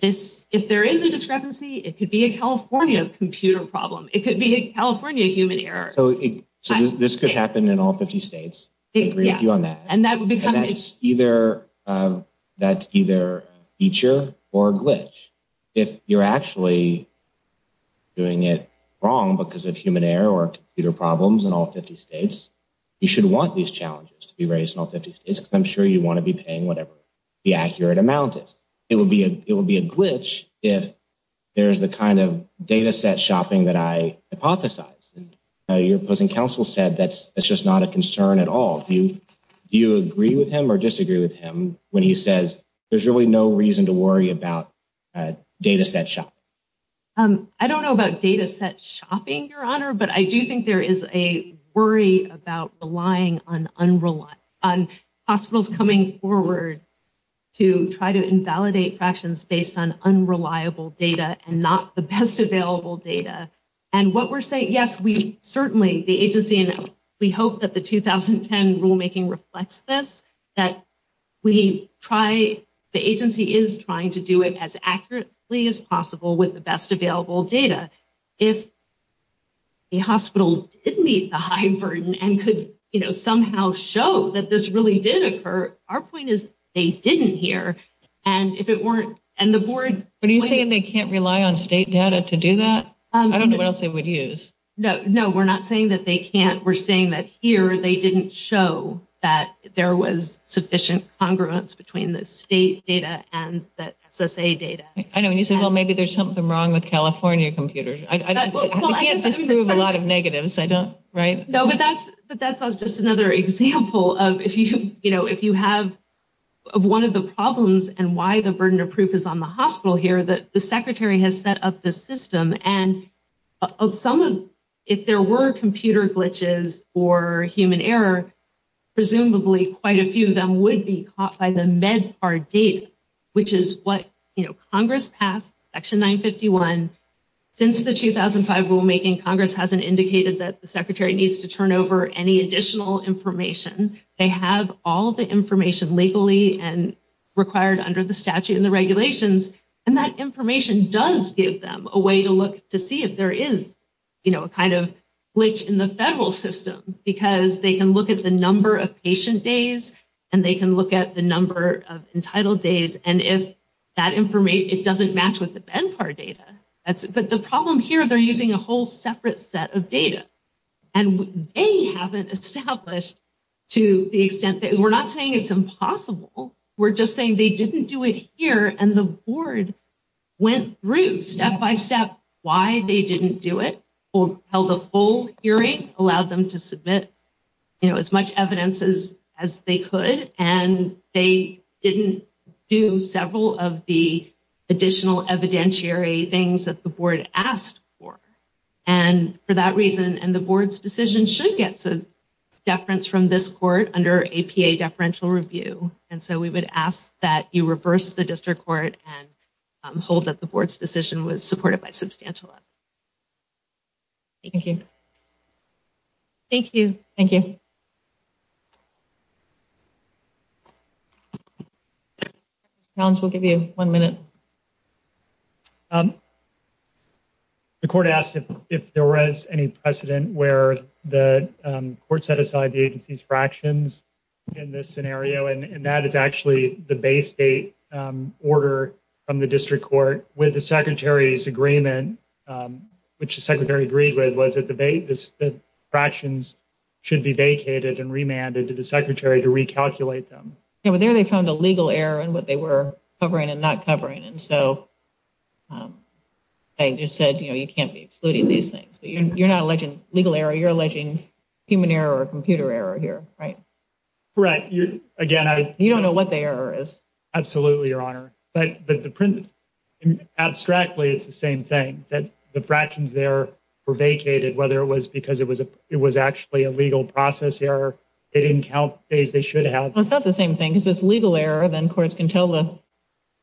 If there is a discrepancy, it could be a California computer problem. It could be a California human error. So this could happen in all 50 states? Yeah. And that's either a feature or a glitch. If you're actually doing it wrong because of human error or computer problems in all 50 states, you should want these challenges to be raised in all 50 states. I'm sure you want to be paying whatever the accurate amount is. It would be a glitch if there's the kind of data set shopping that I hypothesized. Your opposing counsel said that's just not a concern at all. Do you agree with him or disagree with him when he says there's really no reason to worry about data set shopping? I don't know about data set shopping, Your Honor, but I do think there is a worry about relying on hospitals coming forward to try to invalidate factions based on unreliable data and not the best available data. And what we're saying, yes, we certainly, the agency, we hope that the 2010 rulemaking reflects this, that the agency is trying to do it as accurately as possible with the best available data. If the hospitals didn't meet the high burden and could somehow show that this really did occur, our point is they didn't here. What are you saying they can't rely on state data to do that? I don't know what else they would use. No, we're not saying that they can't. We're saying that here they didn't show that there was sufficient congruence between the state data and the SSA data. I know, and you say, well, maybe there's something wrong with California computers. I can't prove a lot of negatives. No, but that's just another example of if you have one of the problems and why the burden of proof is on the hospital here, that the secretary has set up the system. And if there were computer glitches or human error, presumably quite a few of them would be caught by the MedCard date, which is what Congress passed, Section 951. Since the 2005 rulemaking, Congress hasn't indicated that the secretary needs to turn over any additional information. They have all the information legally and required under the statute and the regulations, and that information does give them a way to look to see if there is a kind of glitch in the federal system, because they can look at the number of patient days, and they can look at the number of entitled days, and if that information doesn't match with the MedCard data. But the problem here, they're using a whole separate set of data. And they haven't established to the extent that we're not saying it's impossible. We're just saying they didn't do it here, and the board went through step by step why they didn't do it, held a full hearing, allowed them to submit as much evidence as they could, and they didn't do several of the additional evidentiary things that the board asked for. And for that reason, and the board's decision should get some deference from this court under APA deferential review. And so we would ask that you reverse the district court and hold that the board's decision was supported by substantial effort. Thank you. Thank you. Thank you. Nance, we'll give you one minute. The court asked if there was any precedent where the court set aside the agency's fractions in this scenario, and that is actually the base date order from the district court with the secretary's agreement, which the secretary agreed with, was that the fractions should be vacated and remanded to the secretary to recalculate them. Yeah, but there they found a legal error in what they were covering and not covering, and so they just said, you know, you can't be excluding these things. You're not alleging legal error. You're alleging human error or computer error here, right? Right. Again, I. You don't know what the error is. Absolutely, Your Honor. But the print, abstractly, it's the same thing, that the fractions there were vacated, whether it was because it was actually a legal process error. They didn't count the days they should have. It's not the same thing. It's a legal error. Then courts can tell the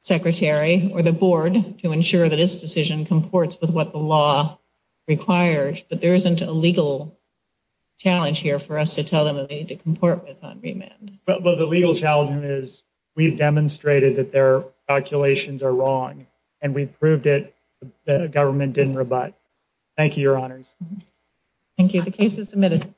secretary or the board to ensure that this decision comports with what the law requires. But there isn't a legal challenge here for us to tell them that they need to comport with on remand. But the legal challenge is we've demonstrated that their calculations are wrong, and we've proved it. The government didn't rebut. Thank you, Your Honor. Thank you. The case is submitted. Thank you.